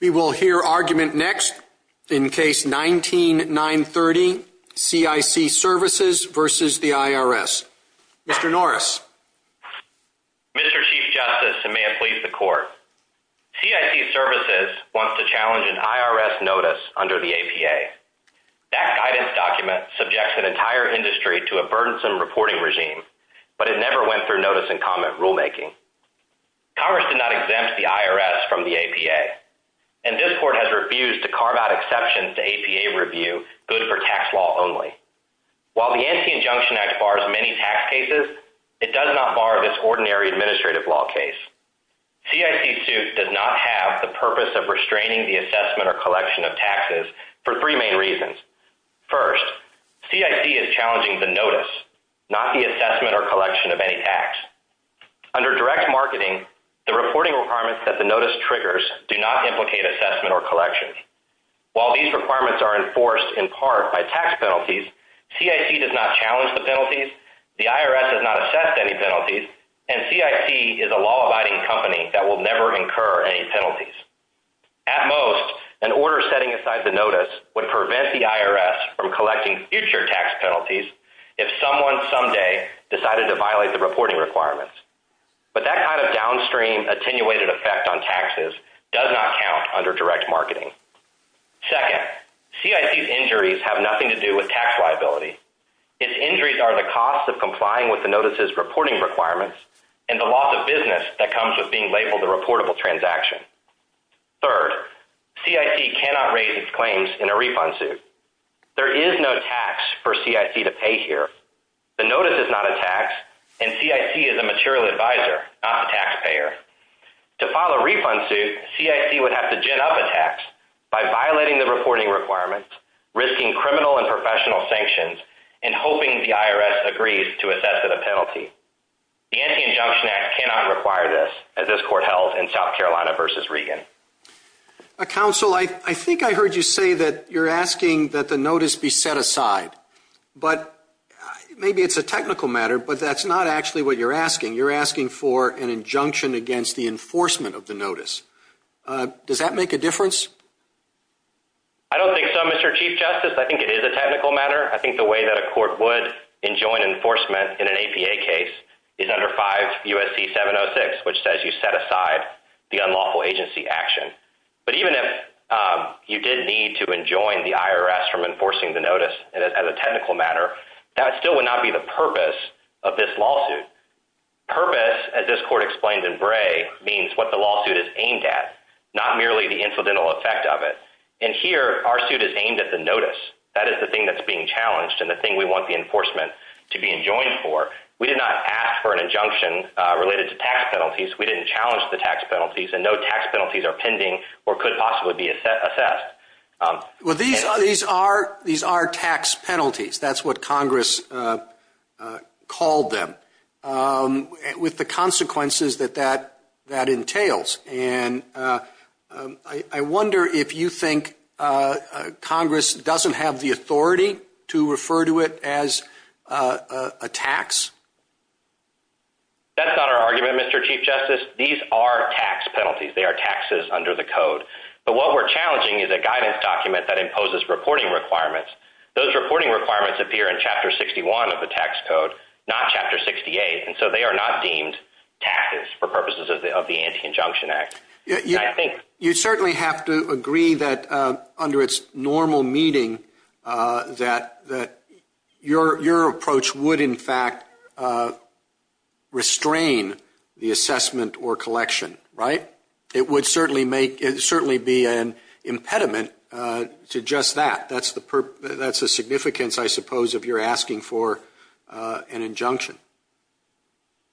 We will hear argument next in Case 19-930, CIC Services v. the IRS. Mr. Norris. Mr. Chief Justice, and may it please the Court, CIC Services wants to challenge an IRS notice under the APA. That guidance document subjects an entire industry to a burdensome reporting regime, but it never went through notice and comment rulemaking. Congress did not exempt the IRS from the APA, and this Court has refused to carve out exceptions to APA review good for tax law only. While the Anti-Injunction Act bars many tax cases, it does not bar this ordinary administrative law case. CIC suit does not have the purpose of restraining the assessment or collection of taxes for three main reasons. First, CIC is challenging the notice, not the assessment or collection of any tax. Under direct marketing, the reporting requirements that the notice triggers do not implicate assessment or collection. While these requirements are enforced in part by tax penalties, CIC does not challenge the penalties, the IRS does not assess any penalties, and CIC is a law-abiding company that will never incur any penalties. At most, an order setting aside the notice would prevent the IRS from collecting future tax penalties if someone someday decided to violate the reporting requirements. But that kind of downstream attenuated effect on taxes does not count under direct marketing. Second, CIC's injuries have nothing to do with tax liability. Its injuries are the cost of complying with the notice's reporting requirements and the loss of business that comes with being labeled a reportable transaction. Third, CIC cannot raise its claims in a refund suit. There is no tax for CIC to pay here. The notice is not a tax, and CIC is a material advisor, not a taxpayer. To file a refund suit, CIC would have to gin up a tax by violating the reporting requirements, risking criminal and professional sanctions, and hoping the IRS agrees to assess at a penalty. The Anti-Injunction Act cannot require this, as this Court held in South Carolina v. Regan. Counsel, I think I heard you say that you're asking that the notice be set aside, but maybe it's a technical matter, but that's not actually what you're asking. You're asking for an injunction against the enforcement of the notice. Does that make a difference? I don't think so, Mr. Chief Justice. I think it is a technical matter. I think the way that a court would enjoin enforcement in an APA case is under 5 U.S.C. 706, which says you set aside the unlawful agency action. But even if you did need to enjoin the IRS from enforcing the notice as a technical matter, that still would not be the purpose of this lawsuit. Purpose, as this Court explained in Bray, means what the lawsuit is aimed at, not merely the incidental effect of it. And here, our suit is aimed at the notice. That is the thing that's being challenged and the thing we want the enforcement to be enjoined for. We did not ask for an injunction related to tax penalties. We didn't challenge the tax penalties, and no tax penalties are pending or could possibly be assessed. Well, these are tax penalties. That's what Congress called them, with the consequences that that entails. And I wonder if you think Congress doesn't have the authority to refer to it as a tax? That's not our argument, Mr. Chief Justice. These are tax penalties. They are taxes under the Code. But what we're challenging is a guidance document that imposes reporting requirements. Those reporting requirements appear in Chapter 61 of the tax code, not Chapter 68. And so they are not deemed taxes for purposes of the Anti-Injunction Act. I think you certainly have to agree that under its normal meeting that your approach would in fact restrain the assessment or collection, right? It would certainly be an impediment to just that. That's the significance, I suppose, of your asking for an injunction.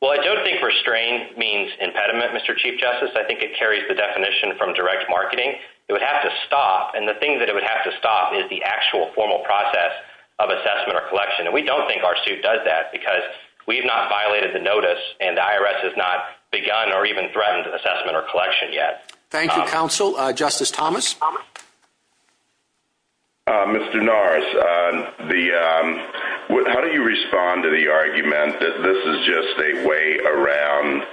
Well, I don't think restrain means impediment, Mr. Chief Justice. I think it carries the definition from direct marketing. It would have to stop, and the thing that it would have to stop is the actual formal process of assessment or collection. And we don't think our suit does that because we've not violated the notice and the IRS has not begun or even threatened assessment or collection yet. Thank you, Counsel. Justice Thomas? Mr. Norris, how do you respond to the argument that this is just a way around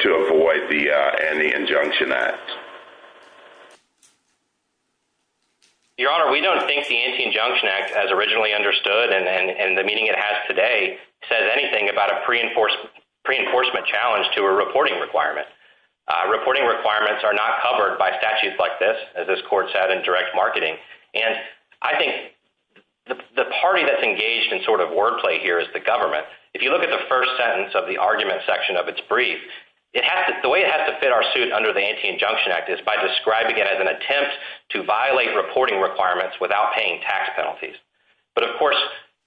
to avoid the Anti-Injunction Act? Your Honor, we don't think the Anti-Injunction Act, as originally understood and the meaning it has today, says anything about a pre-enforcement challenge to a reporting requirement. Reporting requirements are not covered by statutes like this, as this Court said, in direct marketing. And I think the party that's engaged in sort of wordplay here is the government. If you look at the first sentence of the argument section of its brief, the way it has to fit our suit under the Anti-Injunction Act is by describing it as an attempt to violate reporting requirements without paying tax penalties. But of course,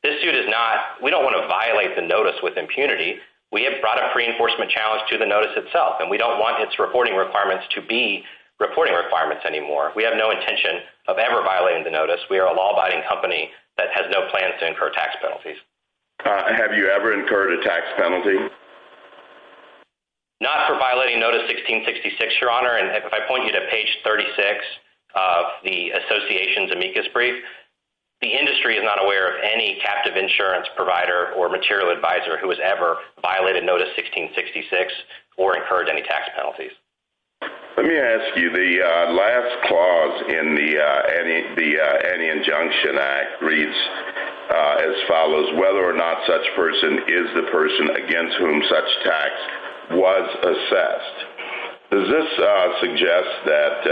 this suit is not – we don't want to violate the notice with impunity. We have brought a pre-enforcement challenge to the notice itself, and we don't want its reporting requirements to be reporting requirements anymore. We have no intention of ever violating the notice. We are a law abiding company that has no plans to incur tax penalties. Have you ever incurred a tax penalty? Not for violating Notice 1666, Your Honor. And if I point you to page 36 of the Association's amicus brief, the industry is not aware of any captive insurance provider or material advisor who has ever violated Notice 1666 or incurred any tax penalties. Let me ask you, the last clause in the Anti-Injunction Act reads as follows, whether or not such person is the person against whom such tax was assessed. Does this suggest that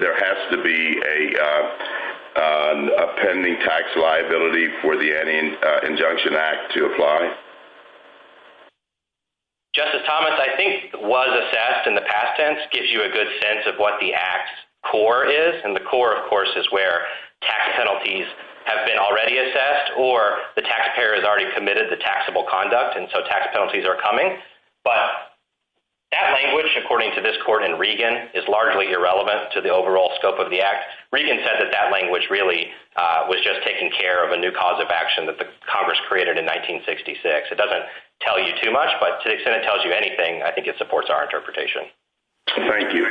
there has to be a pending tax liability for the Anti-Injunction Act to apply? Justice Thomas, I think was assessed in the past tense gives you a good sense of what the Act's core is. And the core, of course, is where tax penalties have been already assessed or the taxpayer has already committed the taxable conduct, and so tax penalties are coming. But that language, according to this court in Regan, is largely irrelevant to the overall scope of the Act. Regan said that that language really was just taking care of a new cause of action that Congress created in 1966. It doesn't tell you too much, but to the extent it tells you anything, I think it supports our interpretation. Thank you.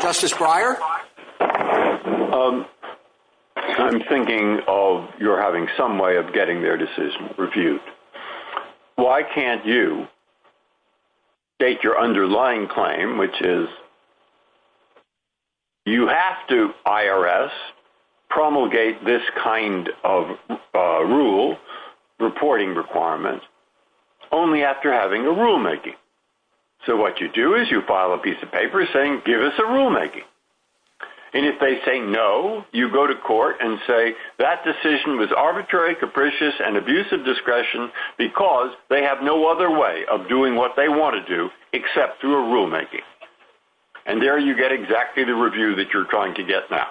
Justice Breyer? I'm thinking of you're having some way of getting their decision reviewed. Why can't you state your underlying claim, which is you have to, IRS, promulgate this kind of rule, reporting requirement, only after having a rulemaking. So what you do is you file a claim, and if they say no, you go to court and say that decision was arbitrary, capricious, and abuse of discretion because they have no other way of doing what they want to do except through a rulemaking. And there you get exactly the review that you're trying to get now.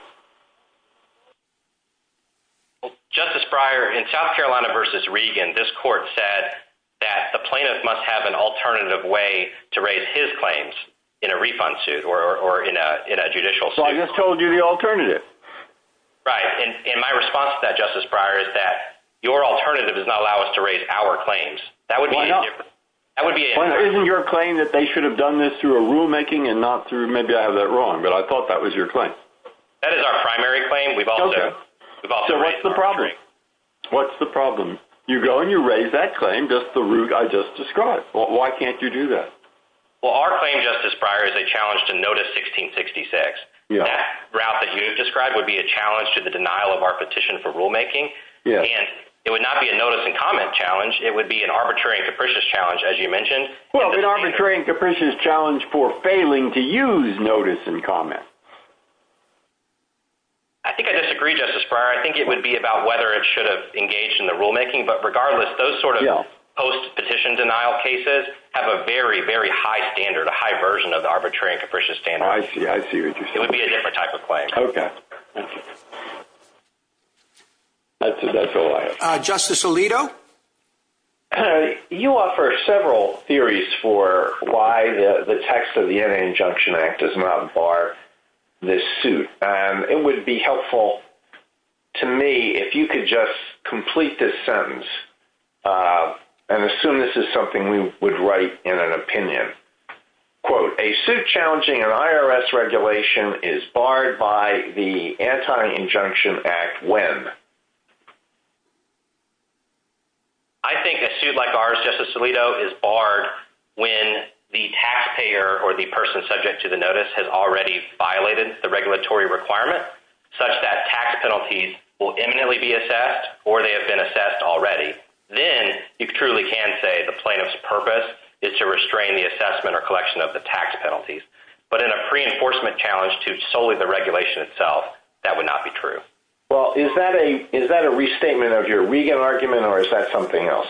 Justice Breyer, in South Carolina v. Regan, this court said that the plaintiff must have an alternative way to raise his claims in a refund suit or in a judicial suit. So I just told you the alternative. Right. And my response to that, Justice Breyer, is that your alternative does not allow us to raise our claims. That would be indifferent. Isn't your claim that they should have done this through a rulemaking and not through — maybe I have that wrong, but I thought that was your claim. That is our primary claim. So what's the problem? What's the problem? You go and you raise that claim, just the Why can't you do that? Well, our claim, Justice Breyer, is a challenge to Notice 1666. That route that you described would be a challenge to the denial of our petition for rulemaking. And it would not be a notice and comment challenge. It would be an arbitrary and capricious challenge, as you mentioned. Well, an arbitrary and capricious challenge for failing to use notice and comment. I think I disagree, Justice Breyer. I think it would be about whether it should have engaged But regardless, those sort of post-petition denial cases have a very, very high standard, a high version of the arbitrary and capricious standard. I see. I see what you're saying. It would be a different type of claim. Okay. That's all I have. Justice Alito? You offer several theories for why the text of the N.A. Injunction Act does not bar this suit. It would be helpful to me if you could just complete this sentence and assume this is something we would write in an opinion. Quote, a suit challenging an IRS regulation is barred by the Anti-Injunction Act when? I think a suit like ours, Justice Alito, is barred when the taxpayer or the person subject to the notice has already violated the regulatory requirement such that tax penalties will imminently be assessed or they have been assessed already. Then you truly can say the plaintiff's purpose is to restrain the assessment or collection of the tax penalties. But in a pre-enforcement challenge to solely the regulation itself, that would not be true. Well, is that a restatement of your Regan argument or is that something else?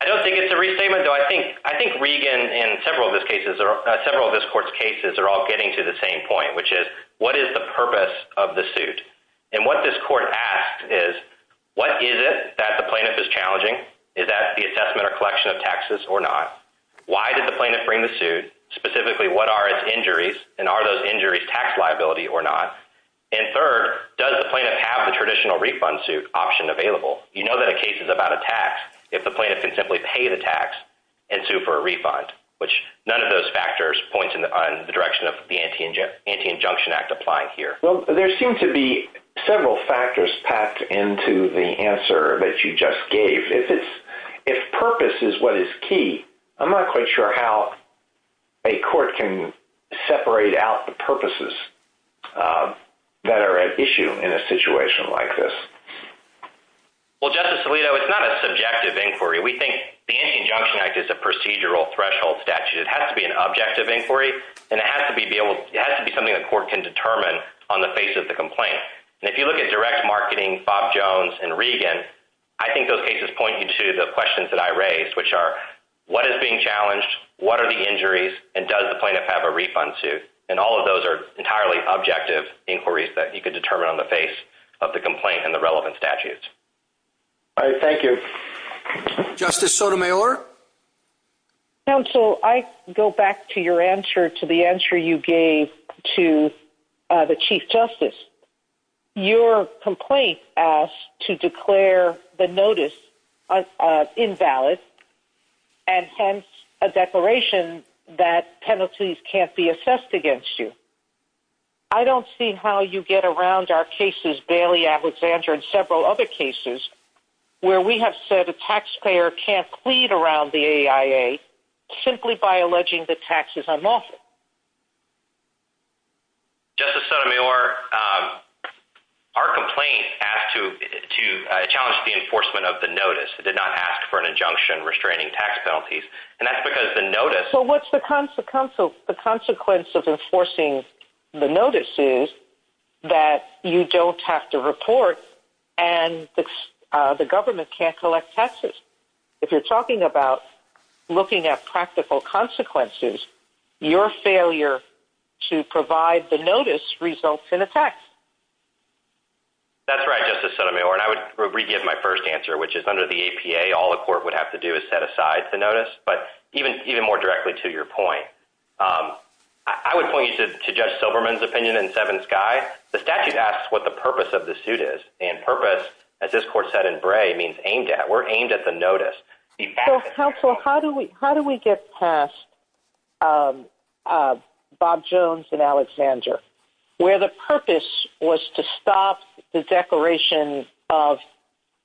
I don't think it's a restatement, though. I think Regan and several of this Court's cases are all getting to the same point, which is what is the purpose of the suit? And what this Court asked is what is it that the plaintiff is challenging? Is that the assessment or collection of taxes or not? Why did the plaintiff bring the suit? Specifically, what are its injuries and are those injuries tax liability or not? And third, does the plaintiff have the traditional refund suit option available? You know that a case is about a tax. If the plaintiff can simply pay the tax and sue for a refund, which none of those factors point in the direction of the Anti-Injunction Act applying here. Well, there seem to be several factors packed into the answer that you just gave. If purpose is what is key, I'm not quite sure how a court can separate out the purposes that are at issue in a situation like this. Well, Justice Alito, it's not a subjective inquiry. We think the Anti-Injunction Act is a procedural threshold statute. It has to be an objective inquiry and it has to be something the court can determine on the face of the complaint. And if you look at direct marketing, Bob Jones, and Regan, I think those cases point you to the questions that I raised, which are what is being challenged, what are the injuries, and does the plaintiff have a refund suit? And all of those are entirely objective inquiries that you could determine on the face of the complaint and the relevant statutes. All right, thank you. Justice Sotomayor? Counsel, I go back to your answer, to the answer you gave to the Chief Justice. Your complaint asked to declare the notice invalid, and hence a declaration that penalties can't be assessed against you. I don't see how you get around our cases, Bailey, Alexander, and several other cases where we have said a taxpayer can't plead around the AIA simply by alleging that tax is unlawful. Justice Sotomayor, our complaint asked to challenge the enforcement of the notice. It did not ask for an injunction restraining tax penalties, and that's because the notice... The consequence of enforcing the notice is that you don't have to report and the government can't collect taxes. If you're talking about looking at practical consequences, your failure to provide the notice results in a tax. That's right, Justice Sotomayor, and I would re-give my first answer, which is under the APA, all a court would have to do is set aside the notice, but even more directly to your point, I would point you to Judge Silverman's opinion in Seven Skies. The statute asks what the purpose of the suit is, and purpose, as this court said in Bray, means aimed at. We're aimed at the notice. Counsel, how do we get past Bob Jones and Alexander, where the purpose was to stop the declaration of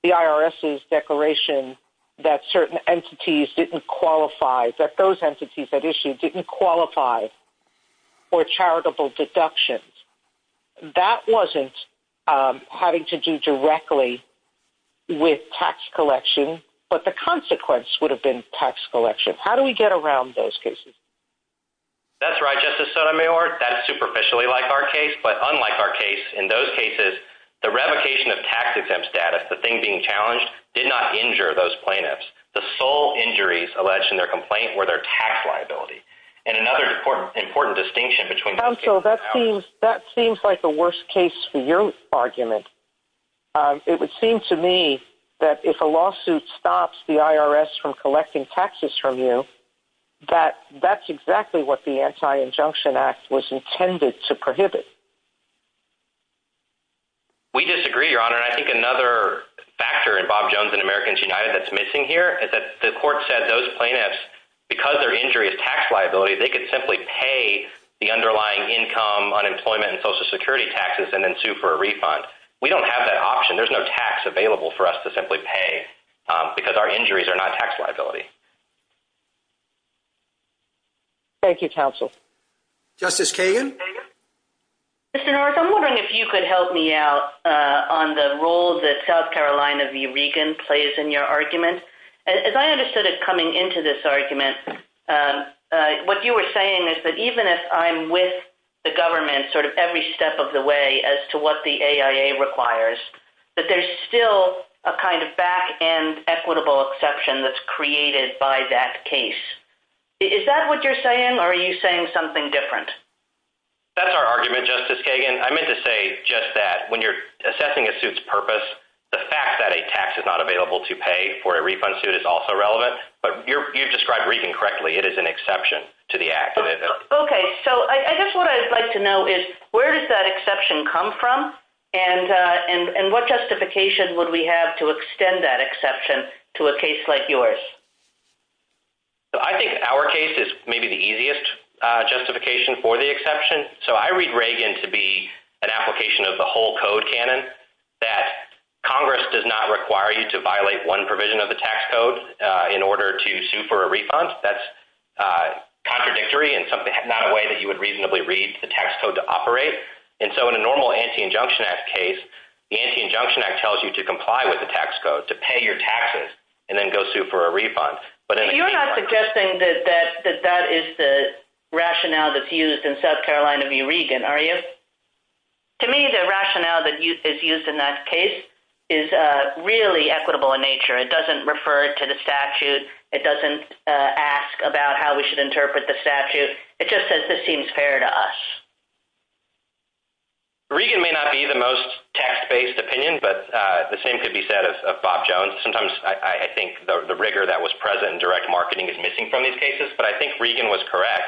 the IRS's declaration that certain entities didn't qualify, that those entities at issue didn't qualify for charitable deductions? That wasn't having to do directly with tax collection, but the consequence would have been tax collection. How do we get around those cases? That's right, Justice Sotomayor. That is superficially like our case, but unlike our case, in those cases, the revocation of tax-exempt status, the thing being challenged, did not injure those plaintiffs. The sole injuries alleged in their complaint were their tax liability, and another important distinction between those cases... Counsel, that seems like the worst case for your argument. It would seem to me that if a lawsuit stops the IRS from collecting taxes from you, that's exactly what the Anti-Injunction Act was intended to prohibit. We disagree, Your Honor, and I think another factor in Bob Jones and Americans United that's missing here is that the court said those plaintiffs, because their injury is tax liability, they could simply pay the underlying income, unemployment, and Social Security taxes and then sue for a refund. We don't have that option. There's no tax available for us to simply pay because our injuries are not tax liability. Thank you, Counsel. Justice Kagan? Mr. North, I'm wondering if you could help me out on the role that South Carolina v. Regan plays in your argument. As I understood it coming into this argument, what you were saying is that even if I'm with the government sort of every step of the way as to what the AIA requires, that there's still a kind of back-end equitable exception that's created by that case. Is that what you're saying, or are you saying something different? That's our argument, Justice Kagan. I meant to say just that. When you're assessing a suit's purpose, the fact that a tax is not available to pay for a refund suit is also relevant, but you've described Regan correctly. It is an exception to the act. Okay. I guess what I'd like to know is where does that exception come from and what justification would we have to extend that exception to a case like yours? I think our case is maybe the easiest justification for the exception. I read Regan to be an application of the whole code canon that Congress does not require you to violate one provision of the tax code in order to sue for a refund. That's contradictory and not a way that you would reasonably read the tax code to operate. In a normal Anti-Injunction Act case, the Anti-Injunction Act tells you to comply with the tax code, to pay your taxes, and then go sue for a refund. You're not suggesting that that is the rationale that's used in South Carolina v. Regan, are you? To me, the rationale that is used in that case is really equitable in nature. It doesn't refer to the statute. It doesn't ask about how we should interpret the statute. It just says this seems fair to us. Regan may not be the most text-based opinion, but the same could be said of Bob Jones. Sometimes I think the rigor that was present in direct marketing is missing from these cases, but I think Regan was correct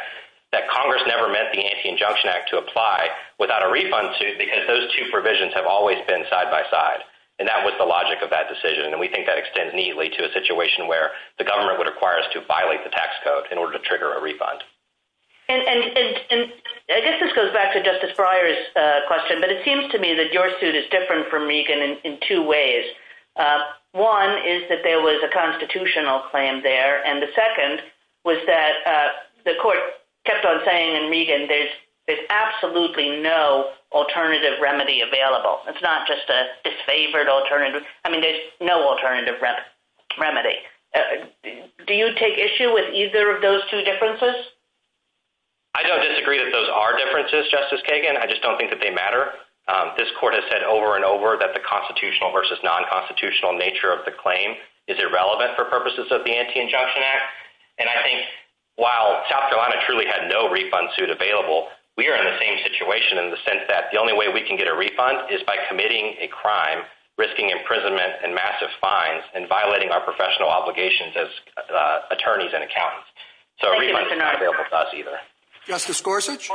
that Congress never meant the Anti-Injunction Act to apply without a refund, too, and that they have always been side-by-side, and that was the logic of that decision, and we think that extends neatly to a situation where the government would require us to violate the tax code in order to trigger a refund. I guess this goes back to Justice Breyer's question, but it seems to me that your suit is different from Regan in two ways. One is that there was a constitutional claim there, and the second was that the court kept on saying in Regan that there's absolutely no alternative remedy available. It's not just a disfavored alternative. I mean, there's no alternative remedy. Do you take issue with either of those two differences? I don't disagree that those are differences, Justice Kagan. I just don't think that they matter. This court has said over and over that the constitutional versus non-constitutional for purposes of the Anti-Injunction Act, and I think while South Carolina truly had no refund suit available, we are in the same situation in the sense that the only way we can get a refund is by committing a crime, risking imprisonment and massive fines, and violating our professional obligations as attorneys and accountants. So a refund is not available to us either. Justice Gorsuch?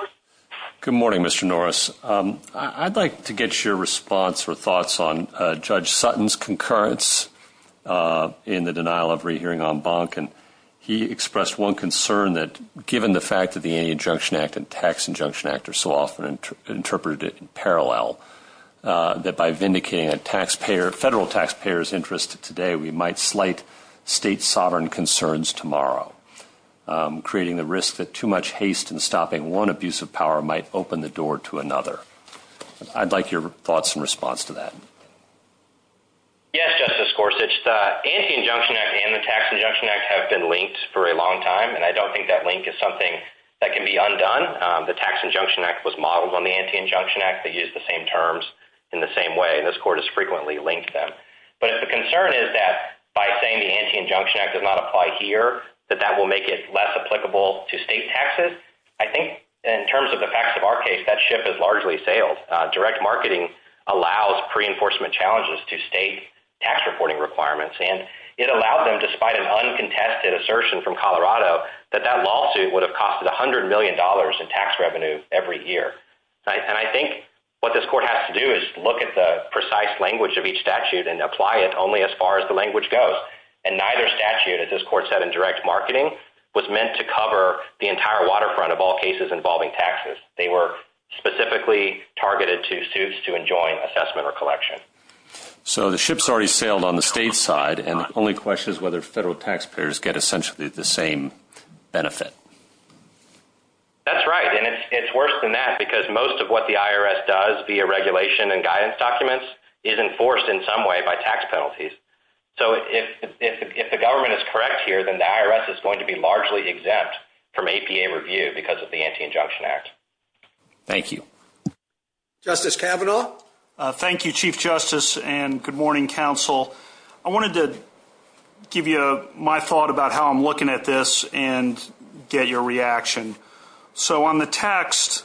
Good morning, Mr. Norris. I'd like to get your response or thoughts on Judge Sutton's concurrence in the denial of rehearing en banc, and he expressed one concern that given the fact that the Anti-Injunction Act and the Tax Injunction Act are so often interpreted in parallel, that by vindicating a taxpayer, federal taxpayer's interest today, we might slight state sovereign concerns tomorrow, creating the risk that too much haste in stopping one abuse of power might open the door to another. I'd like your thoughts and response to that. Yes, Justice Gorsuch. The Anti-Injunction Act and the Tax Injunction Act I think that link is something that can be undone. The Tax Injunction Act was modeled on the Anti-Injunction Act. They use the same terms in the same way, and this Court has frequently linked them. But if the concern is that by saying the Anti-Injunction Act does not apply here, that that will make it less applicable to state taxes, I think in terms of the facts of our case, that ship has largely sailed. Direct marketing allows pre-enforcement challenges to state tax reporting requirements, and it allowed them, despite an uncontested assertion from Colorado, that that lawsuit would have cost $100 million in tax revenue every year. And I think what this Court has to do is look at the precise language of each statute and apply it only as far as the language goes. And neither statute, as this Court said in direct marketing, was meant to cover the entire waterfront of all cases involving taxes. It was targeted to suits to enjoin assessment or collection. So the ship's already sailed on the state side, and the only question is whether federal taxpayers get essentially the same benefit. That's right, and it's worse than that because most of what the IRS does via regulation and guidance documents is enforced in some way by tax penalties. So if the government is correct here, then the IRS is going to be the one that's going to get the benefit. Justice Kavanaugh? Thank you, Chief Justice, and good morning, counsel. I wanted to give you my thought about how I'm looking at this and get your reaction. So on the text,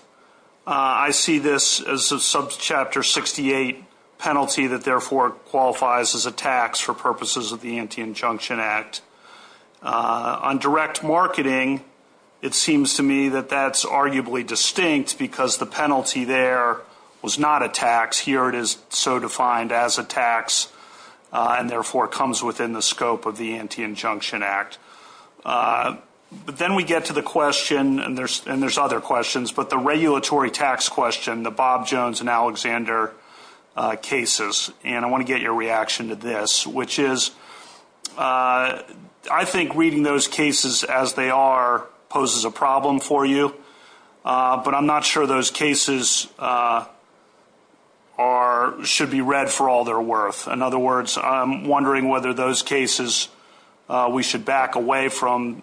I see this as a subchapter 68 penalty that therefore qualifies as a tax for purposes of the Anti-Injunction Act. On direct marketing, it seems to me that that's arguably distinct because the penalty there was not a tax. Here it is so defined as a tax and therefore comes within the scope of the Anti-Injunction Act. But then we get to the question, and there's other questions, but the regulatory tax question, the Bob Jones and Alexander cases, and I want to get your reaction to this, which is I think reading those cases poses a problem for you, but I'm not sure those cases should be read for all they're worth. In other words, I'm wondering whether those cases we should back away from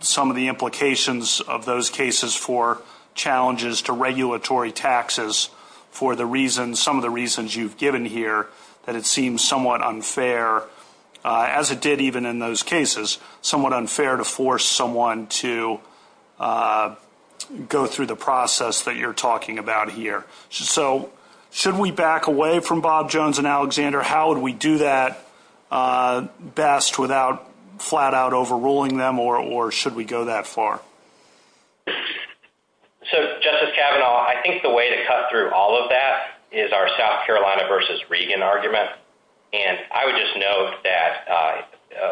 some of the implications of those cases for challenges to regulatory taxes for some of the reasons you've given here that it seems somewhat unfair, as it did even in those cases, to force someone to go through the process that you're talking about here. So should we back away from Bob Jones and Alexander? How would we do that best without flat out overruling them, or should we go that far? So, Justice Kavanaugh, I think the way to cut through all of that is our South Carolina v. Reagan argument, and I would just note that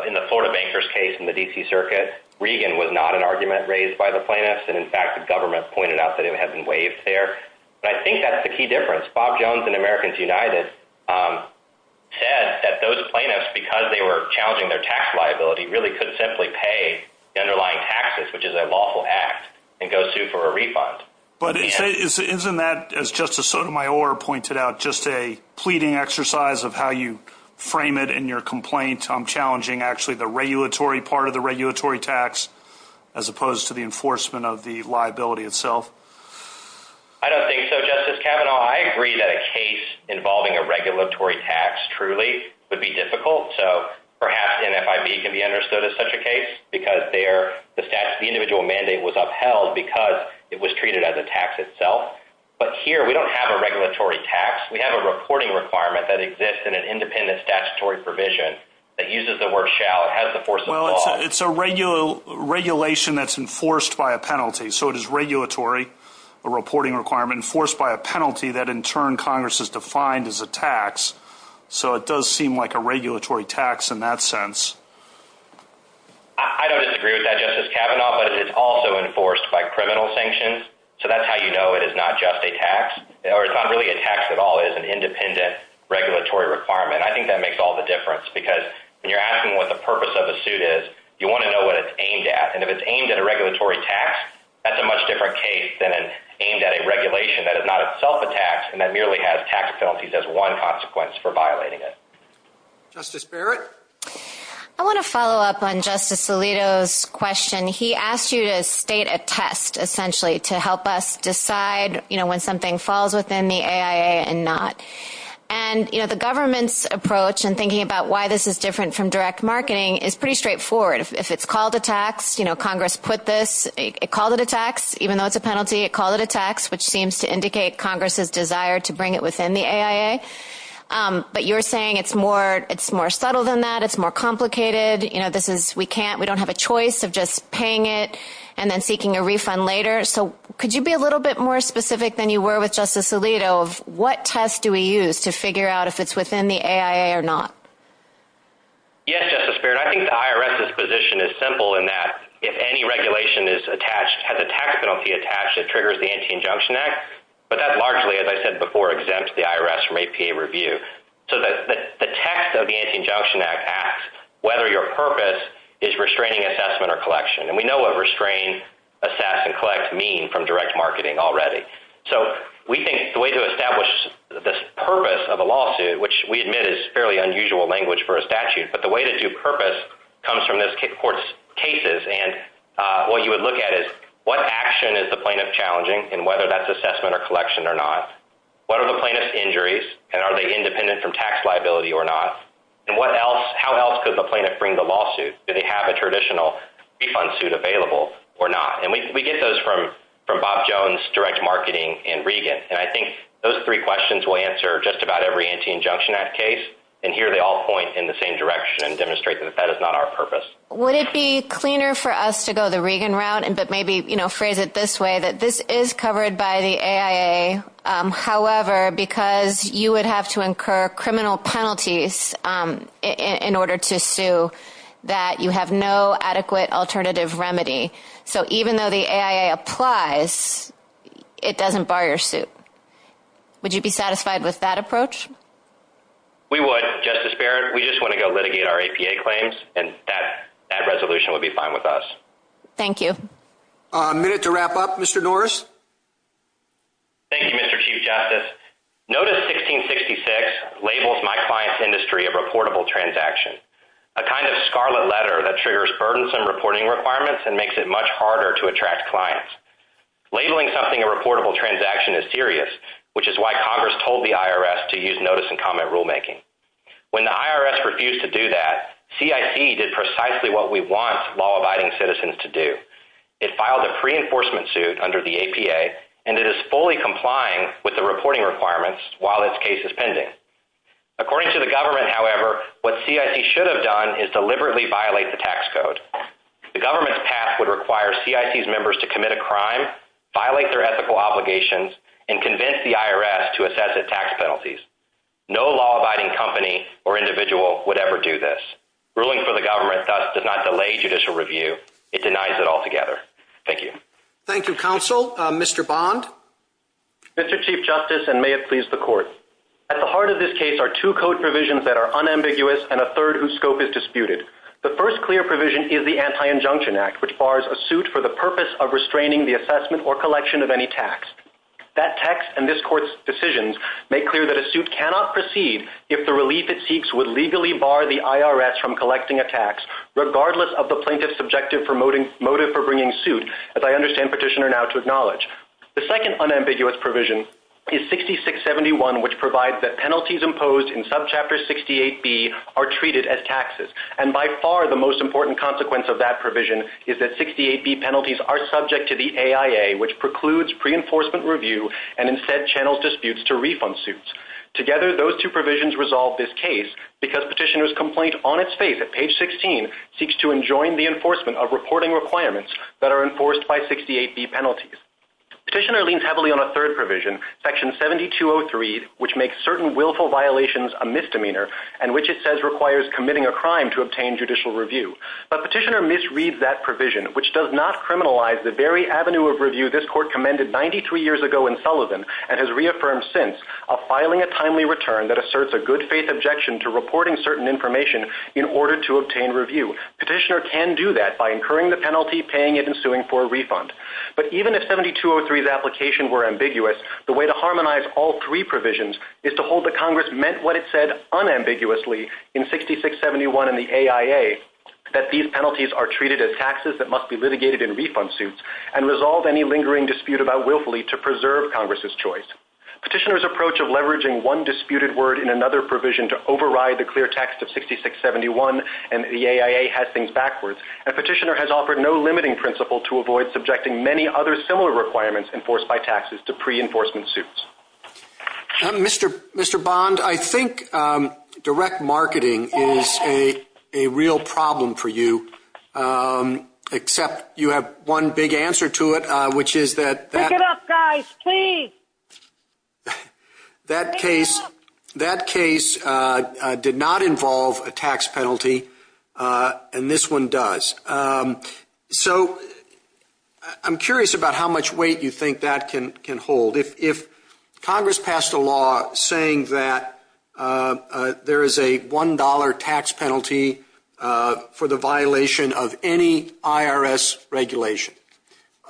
in the Florida Bankers case in the D.C. Circuit, Reagan was not an argument raised by the plaintiffs, and in fact the government pointed out that it had been waived there. But I think that's the key difference. Bob Jones and Americans United said that those plaintiffs, because they were challenging their tax liability, really could simply pay the underlying taxes, which is a lawful act, and go sue for a refund. But isn't that, as Justice Sotomayor pointed out, just a pleading exercise of how you frame it in your complaint, challenging actually the regulatory part of the regulatory tax, as opposed to the enforcement of the liability itself? I don't think so, Justice Kavanaugh. I agree that a case involving a regulatory tax, truly, would be difficult. So perhaps NFIB can be understood as such a case because the individual mandate was upheld because it was treated as a tax itself. But here we don't have a regulatory tax. We have a reporting requirement that exists in an independent statutory provision that uses the word shall. It has the force of law. Well, it's a regulation that's enforced by a penalty. So it is regulatory, a reporting requirement, enforced by a penalty that in turn Congress has defined as a tax. So it does seem like a regulatory tax in that sense. I don't disagree with that, Justice Kavanaugh, but it's also enforced by criminal sanctions. So that's how you know it is not just a tax. Or it's not really a tax at all. It is an independent regulatory requirement. I think that makes all the difference because when you're asking what the purpose of a suit is, you want to know what it's aimed at. And if it's aimed at a regulatory tax, that's a much different case than it's aimed at a regulation that is not itself a tax and that merely has tax penalties as one consequence for violating it. Justice Barrett? I want to follow up on Justice Alito's question. He asked you to state a test essentially to help us decide when something falls within the AIA and not. And the government's approach in thinking about why this is different from direct marketing is pretty straightforward. If it's called a tax, Congress put this, it called it a tax even though it's a penalty, it called it a tax which seems to indicate Congress's desire to bring it within the AIA. But you're saying it's more, it's more subtle than that, it's more complicated. You know, this is, we can't, we don't have a choice of just paying it and then seeking a refund later. So could you be a little bit more specific than you were with Justice Alito of what test do we use to figure out if it's within the AIA or not? Yes, Justice Barrett. I think the IRS's position is simple in that if any regulation is attached, has a tax penalty attached, it triggers the Anti-Injunction Act but that largely, as I said before, exempts the IRS from APA review. So the text of the Anti-Injunction Act asks whether your purpose is restraining assessment or collection and we know what restrain, assess, and collect mean from direct marketing already. So we think the way to establish this purpose of a lawsuit which we admit is fairly unusual language for a statute but the way to do purpose comes from this court's cases and what you would look at is what action is the plaintiff challenging and whether that's assessment or collection or not? What are the plaintiff's injuries and are they independent from tax liability or not? And what else, how else could the plaintiff bring the lawsuit? Do they have a traditional refund suit available or not? And we get those from Bob Jones, direct marketing, and Regan and I think those three questions will answer just about every Anti-Injunction Act case and here they all point in the same direction and demonstrate that that is not our purpose. Would it be cleaner for us to go the Regan route but maybe phrase it this way that this is covered by the AIA however because you would have to incur criminal penalties in order to sue that you have no adequate alternative remedy so even though the AIA applies it doesn't bar your suit. Would you be satisfied with that approach? We would, Justice Barrett. We just want to go litigate our APA claims and that resolution would be fine with us. Thank you. Minute to wrap up, Mr. Norris. Thank you, Mr. Chief Justice. Notice 1666 labels my client's industry a reportable transaction, a kind of scarlet letter that triggers burdensome reporting requirements and makes it much harder to attract clients. Labeling something a reportable transaction is serious which is why Congress told the IRS to use notice and comment rulemaking. When the IRS refused to do that CIC did precisely what we want law-abiding citizens to do. It filed a pre-enforcement suit under the APA and it is fully complying with the reporting requirements while its case is pending. According to the government however what CIC should have done is deliberately violate the tax code. The government's path would require CIC's members to commit a crime, violate their ethical obligations, and convince the IRS to assess the tax penalties. No law-abiding company or individual would ever do this. Ruling for the government thus does not delay judicial review. It denies it altogether. Thank you. Thank you, Counsel. Mr. Bond? Mr. Chief Justice and may it please the Court. At the heart of this case are two code provisions that are unambiguous and a third whose scope is disputed. The first clear provision is the Anti-Injunction Act which bars a suit for the purpose of restraining the assessment or collection of any tax. That text and this Court's decisions make clear that a suit cannot proceed if the relief it seeks would legally bar the IRS from collecting a tax regardless of the plaintiff's subjective motive for bringing suit as I understand Petitioner now to acknowledge. The second unambiguous provision is 6671 which provides that penalties imposed in subchapter 68B are treated as taxes. And by far the most important consequence of that provision is that 68B penalties are subject to the AIA which precludes pre-enforcement review and instead channels disputes to refund suits. Together those two provisions resolve this case because Petitioner's complaint on its face at page 16 seeks to enjoin the enforcement of reporting requirements that are enforced by 68B penalties. Petitioner leans heavily on a third provision section 7203 which makes certain willful violations a misdemeanor and which it says requires committing a crime to obtain judicial review. But Petitioner misreads that provision which does not criminalize the very avenue of review this Court commended 93 years ago in Sullivan and has reaffirmed since a filing a timely return that asserts a good faith objection to reporting certain information in order to obtain review. Petitioner can do that by incurring the penalty paying it and suing for a refund. But even if 7203's application were ambiguous the way to harmonize all three provisions is to hold that Congress meant what it said unambiguously in 6671 and the AIA that these penalties are treated as taxes that must be litigated in refund suits and resolve any lingering dispute about willfully to preserve Congress's choice. Petitioner's approach of leveraging one disputed word in another provision to override the clear text of 6671 and the AIA has things backwards and Petitioner has offered no limiting principle to avoid subjecting many other similar requirements enforced by taxes to pre-enforcement suits. Mr. Bond, I think direct marketing is a real problem for you except you have one big answer to it which is that Pick it up guys, please! That case did not involve a tax penalty and this one does. So, I'm curious about how much weight you think that can hold. If Congress passed a law saying that there is a $1 tax penalty for the violation of any IRS regulation,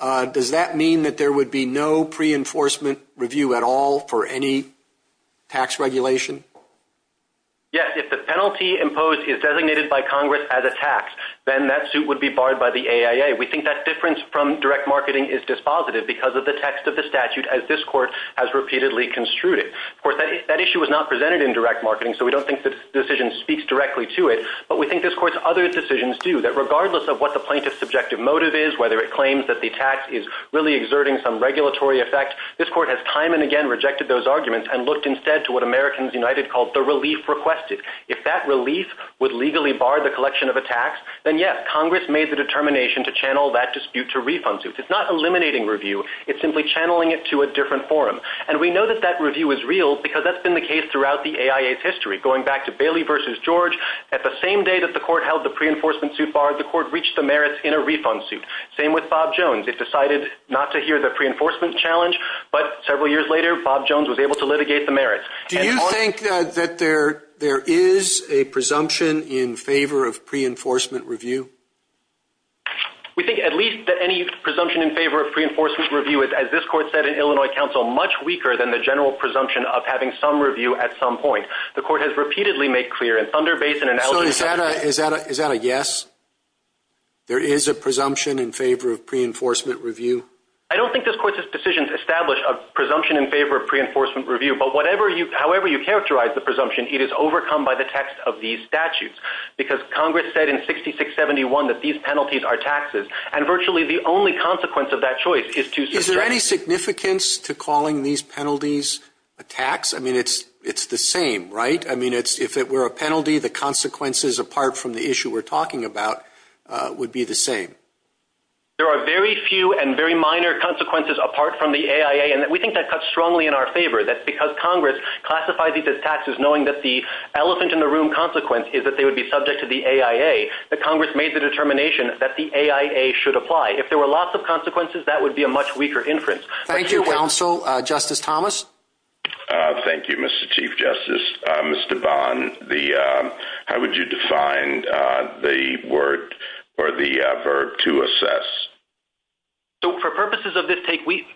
does that mean that there would be no pre-enforcement review at all for any tax regulation? Yes, if the penalty imposed is designated by Congress as a tax, then that suit would be barred by the AIA. We think that difference from direct marketing is dispositive because of the text of the statute as this court has repeatedly construed it. Of course, that issue was not presented in direct marketing so we don't think the decision speaks directly to it but we think this court's other decisions do that regardless of what the plaintiff's subjective motive is, whether it claims that the tax is really exerting some regulatory effect. This court has time and again rejected those arguments and looked instead to what Americans United called the relief requested. If that relief would legally bar the collection of a tax, then yes, Congress made the determination to channel that dispute to refund suits. It's not eliminating review, it's simply channeling it to a different forum. And we know that that review is real because that's been the case throughout the AIA's history. Going back to Bailey v. George, at the same day that the court held the pre-enforcement suit bar, the court reached the merits in a refund suit. Same with Bob Jones. It decided not to hear the pre-enforcement challenge but several years later, Bob Jones was able to litigate the merits. Do you think that there is a presumption in favor of pre-enforcement review? We think at least that any presumption in favor of pre-enforcement review is, as this court said in Illinois counsel, much weaker than the general presumption of having some review at some point. The court has repeatedly made clear in Thunder Basin and... So is that a yes? There is a presumption in favor of pre-enforcement review? I don't think this court's decisions establish a presumption in favor of pre-enforcement review but however you characterize the presumption, it is overcome by the text of these statutes because Congress said in 6671 that these penalties are taxes and virtually the only consequence of that choice is to... Is there any significance to calling these penalties a tax? I mean, it's the same, right? I mean, if it were a penalty, the consequences apart from the issue we're talking about would be the same. There are very few and very minor consequences apart from the AIA and we think that cuts strongly in our favor that because Congress classifies these as taxes knowing that the elephant in the room consequence is that they would be subject to the AIA, that Congress made the determination that the AIA should apply. If there were lots of consequences, that would be a much weaker inference. Thank you, counsel. Justice Thomas? Thank you, Mr. Chief Justice. Mr. Bond, how would you define the word or the verb to assess? So for purposes of this case, we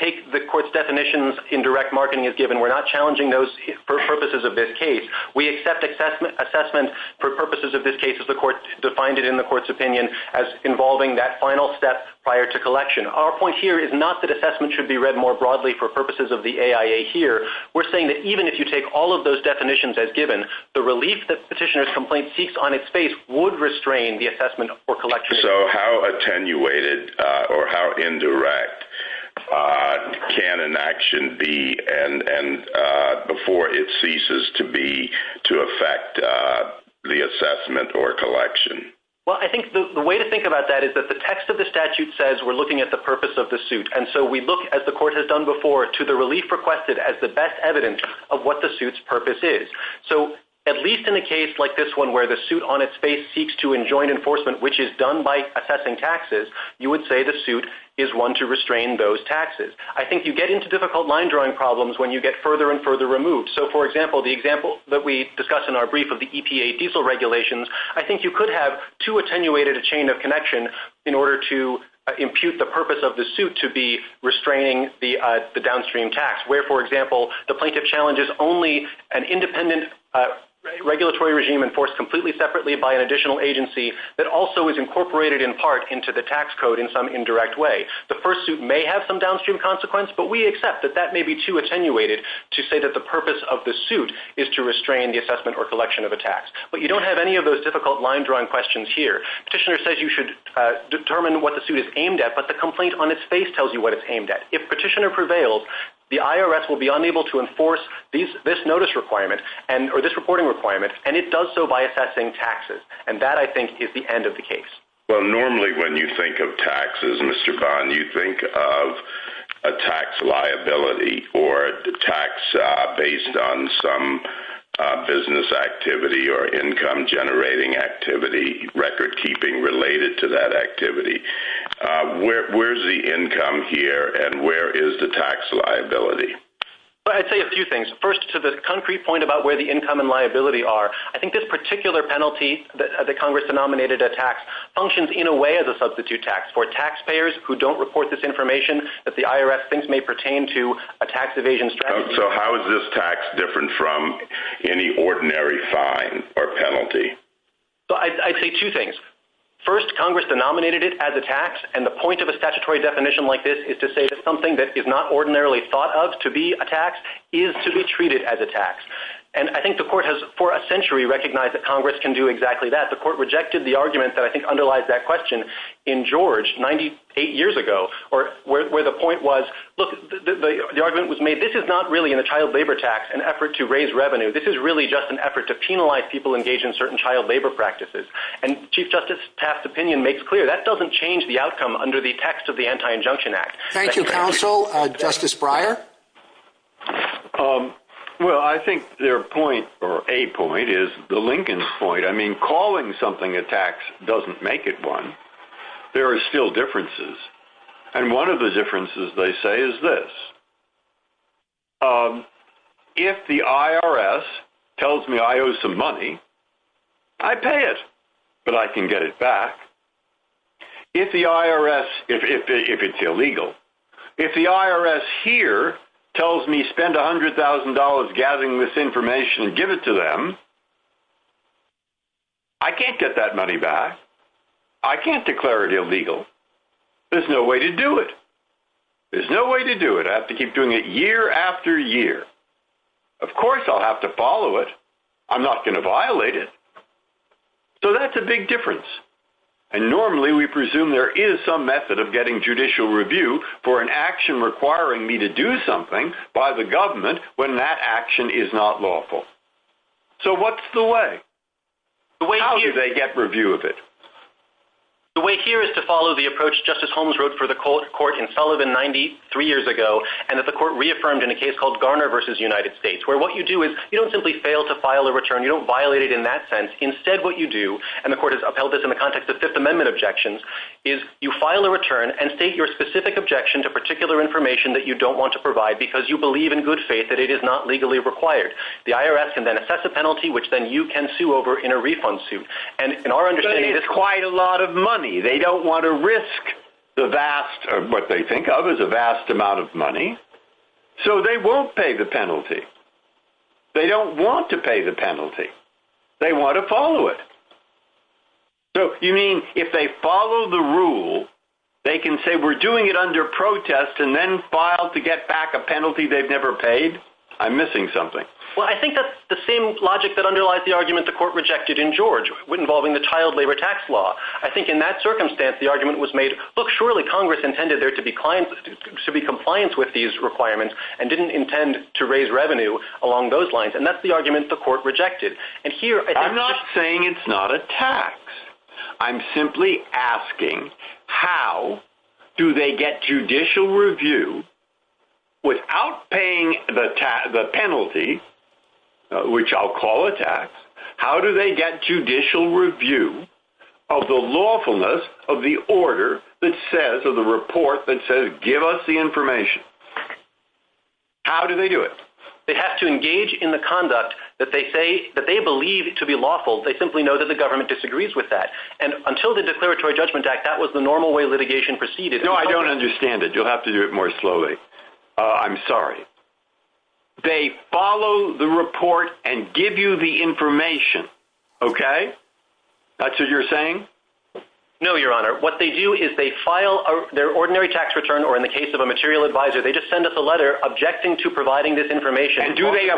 take the court's definitions in direct marketing as given. We're not challenging those for purposes of this case. We accept assessment for purposes of this case as the court defined it in the court's opinion as involving that final step prior to collection. Our point here is not that assessment should be read more broadly for purposes of the AIA here. We're saying that even if you take all of those definitions as given, the relief that petitioner's complaint seeks on its face would restrain the assessment or collection. So how attenuated or how indirect can an action be before it ceases to be to affect the assessment or collection? Well, I think the way to think about that is that the text of the statute says we're looking at the purpose of the suit. And so we look, as the court has done before, to the relief requested as the best evidence of what the suit's purpose is. So at least in a case like this one where the suit on its face seeks to enjoin enforcement, which is done by assessing taxes, you would say the suit is one to restrain those taxes. I think you get into difficult line-drawing problems when you get further and further removed. So, for example, the example that we discussed in our brief of the EPA diesel regulations, I think you could have too attenuated a chain of connection in order to impute the purpose of the suit to be restraining the downstream tax, where, for example, the plaintiff challenges only an independent regulatory regime enforced completely separately by an additional agency that also is incorporated in part into the tax code in some indirect way. The first suit may have some downstream consequence, but we accept that that may be too attenuated to say that the purpose of the suit is to restrain the assessment or collection of a tax. But you don't have any of those difficult line-drawing questions here. Petitioner says you should determine what the suit is aimed at, but the complaint on its face tells you what it's aimed at. If Petitioner prevails, the IRS will be unable to enforce this notice requirement or this reporting requirement, and it does so by assessing taxes. And that, I think, is the end of the case. Well, normally, when you think of taxes, Mr. Bond, you think of a tax liability or the tax based on some business activity or income-generating activity, record-keeping related to that activity. Where's the income here, and where is the tax liability? Well, I'd say a few things. First, to the concrete point about where the income and liability are, I think this particular penalty that Congress denominated a tax functions in a way as a substitute tax for taxpayers who don't report this information that the IRS thinks may pertain to a tax evasion strategy. So how is this tax different from any ordinary fine or penalty? I'd say two things. First, Congress denominated it as a tax, and the point of a statutory definition like this is to say that something that is not ordinarily thought of to be a tax is to be treated as a tax. And I think the Court has for a century recognized that Congress can do exactly that. The Court rejected the argument that I think underlies that question in George 98 years ago, where the point was, look, the argument was made, this is not really in the child labor tax an effort to raise revenue. This is really just an effort to penalize people engaged in certain child labor practices. And Chief Justice Taft's opinion makes clear that doesn't change the outcome under the text of the Anti-Injunction Act. Thank you, Counsel. Justice Breyer? Well, I think their point, or a point, is the Lincoln point. I mean, calling something a tax doesn't make it one. There are still differences. And one of the differences, they say, is this. If the IRS tells me I owe some money, I pay it, but I can get it back. If the IRS, if it's illegal. If the IRS here tells me spend $100,000 gathering this information and give it to them, I can't get that money back. I can't declare it illegal. There's no way to do it. There's no way to do it. I have to keep doing it year after year. Of course I'll have to follow it. I'm not going to violate it. So that's a big difference. And normally we presume there is some method of getting judicial review for an action requiring me to do something by the government when that action is not lawful. So what's the way? How do they get review of it? The way here is to follow the approach Justice Holmes wrote for the court in Sullivan 93 years ago, and that the court reaffirmed in a case called Garner v. United States, where what you do is you don't simply fail to file a return. You don't violate it in that sense. Instead what you do, and the court has upheld this in the context of Fifth Amendment objections, is you file a return and state your specific objection to particular information that you don't want to provide because you believe in good faith that it is not legally required. The IRS can then assess a penalty, which then you can sue over in a refund suit. But it's quite a lot of money. They don't want to risk what they think of as a vast amount of money, so they won't pay the penalty. They don't want to pay the penalty. They want to follow it. So you mean, if they follow the rule, they can say, we're doing it under protest, and then file to get back a penalty they've never paid? I'm missing something. Well, I think that's the same logic that underlies the argument the court rejected in George, involving the child labor tax law. I think in that circumstance the argument was made, look, surely Congress intended there to be compliance with these requirements and didn't intend to raise revenue along those lines. And that's the argument the court rejected. I'm not saying it's not a tax. I'm simply asking, how do they get judicial review without paying the penalty, which I'll call a tax, how do they get judicial review of the lawfulness of the order that says, of the report that says, give us the information? How do they do it? They have to engage in the conduct that they believe to be lawful. They simply know that the government disagrees with that. And until the Declaratory Judgment Act, that was the normal way litigation proceeded. No, I don't understand it. You'll have to do it more slowly. I'm sorry. They follow the report and give you the information. Okay? That's what you're saying? No, Your Honor. What they do is they file their ordinary tax return, or in the case of a material advisor, they just send us a letter objecting to providing this information. Do they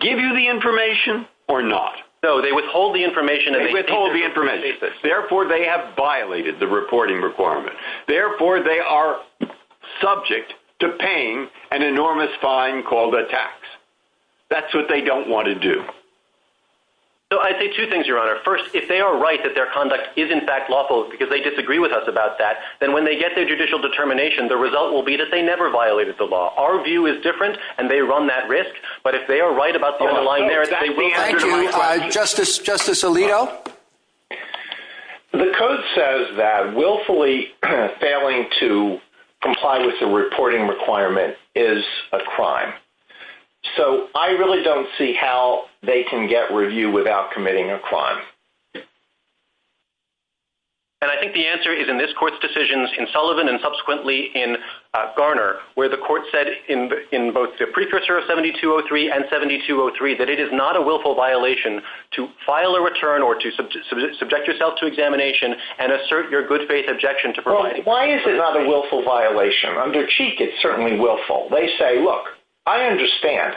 give you the information or not? No, they withhold the information. They withhold the information. Therefore, they have violated the reporting requirement. Therefore, they are subject to paying an enormous fine called a tax. That's what they don't want to do. So I'd say two things, Your Honor. First, if they are right that their conduct is in fact lawful because they disagree with us about that, then when they get their judicial determination, the result will be that they never violated the law. Our view is different, and they run that risk, but if they are right about the underlying merits, they will be under the law. Thank you. Justice Alito? The Code says that willfully failing to comply with the reporting requirement is a crime. So I really don't see how they can get review without committing a crime. And I think the answer is in this Court's decisions in Sullivan and subsequently in Garner, where the Court said in both the precursor of 7203 and 7203 that it is not a willful violation to file a return or to subject yourself to examination and assert your good faith objection to providing... Well, why is it not a willful violation? Under Cheek, it's certainly willful. They say, look, I understand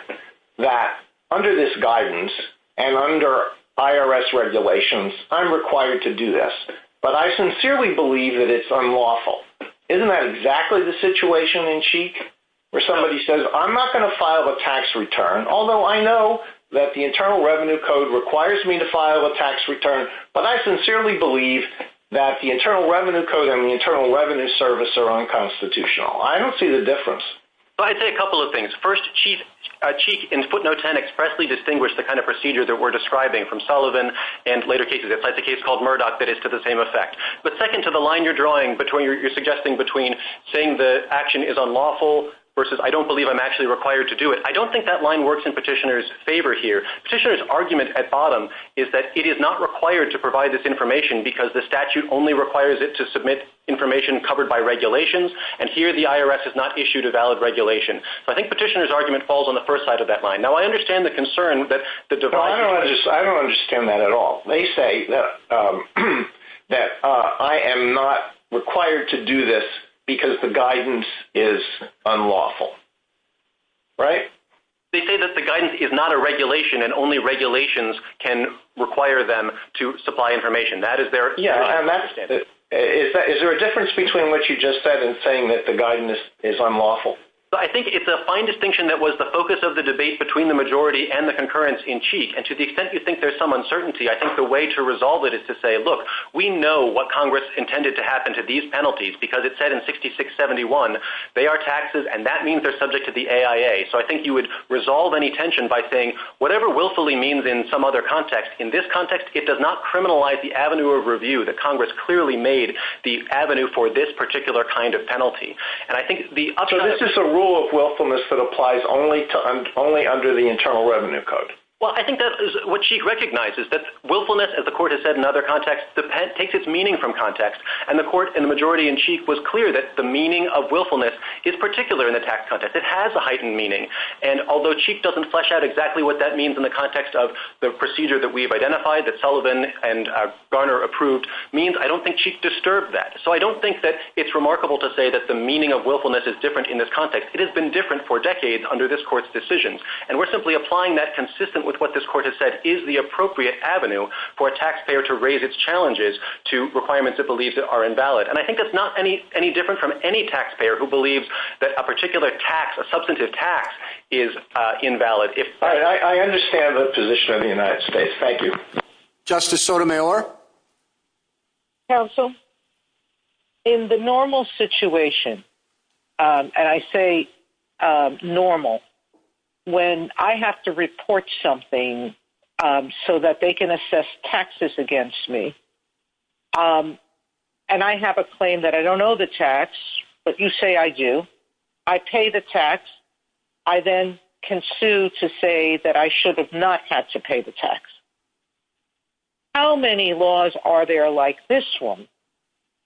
that under this guidance and under IRS regulations, I'm required to do this, but I sincerely believe that it's unlawful. Isn't that exactly the situation in Cheek where somebody says, I'm not going to file a tax return, although I know that the Internal Revenue Code requires me to file a tax return, but I sincerely believe that the Internal Revenue Code and the Internal Revenue Service are unconstitutional. I don't see the difference. I'd say a couple of things. First, Cheek in footnote 10 expressly distinguished the kind of procedure that we're describing from Sullivan and later cases. It's like the case called Murdoch that is to the same effect. But second, to the line you're drawing and you're suggesting between saying the action is unlawful versus I don't believe I'm actually required to do it. I don't think that line works in petitioner's favor here. Petitioner's argument at bottom is that it is not required to provide this information because the statute only requires it to submit information covered by regulations, and here the IRS has not issued a valid regulation. So I think petitioner's argument falls on the first side of that line. Now, I understand the concern that the device... I don't understand that at all. They say that I am not required to do this because the guidance is unlawful. Right? They say that the guidance is not a regulation and only regulations can require them to supply information. That is their... Yeah, and that's... Is there a difference between what you just said and saying that the guidance is unlawful? I think it's a fine distinction that was the focus of the debate between the majority and the concurrence in Cheek, and to the extent you think there's some uncertainty, I think the way to resolve it is to say, look, we know what Congress intended to happen to these penalties because it said in 6671 they are taxes and that means they're subject to the AIA. So I think you would resolve any tension by saying, whatever willfully means in some other context, in this context, it does not criminalize the avenue of review that Congress clearly made the avenue for this particular kind of penalty. And I think the... So this is a rule of willfulness that applies only to... only under the Internal Revenue Code? Well, I think that is what Cheek recognizes, that willfulness, as the Court has said in other contexts, takes its meaning from context. And the Court and the majority in Cheek was clear that the meaning of willfulness is particular in the tax context. It has a heightened meaning. And although Cheek doesn't flesh out exactly what that means in the context of the procedure that we've identified, that Sullivan and Garner approved, means I don't think Cheek disturbed that. So I don't think that it's remarkable to say that the meaning of willfulness is different in this context. It has been different for decades under this Court's decisions. And we're simply applying that consistent with what this Court has said is the appropriate avenue for a taxpayer to raise its challenges to requirements it believes are invalid. And I think that's not any different from any taxpayer who believes that a particular tax, a substantive tax, is invalid. All right, I understand the position of the United States. Thank you. Justice Sotomayor? Counsel, in the normal situation, and I say normal, when I have to report something so that they can assess taxes against me, and I have a claim that I don't owe the tax, but you say I do, I pay the tax, I then can sue to say that I should have not had to pay the tax. How many laws are there like this one?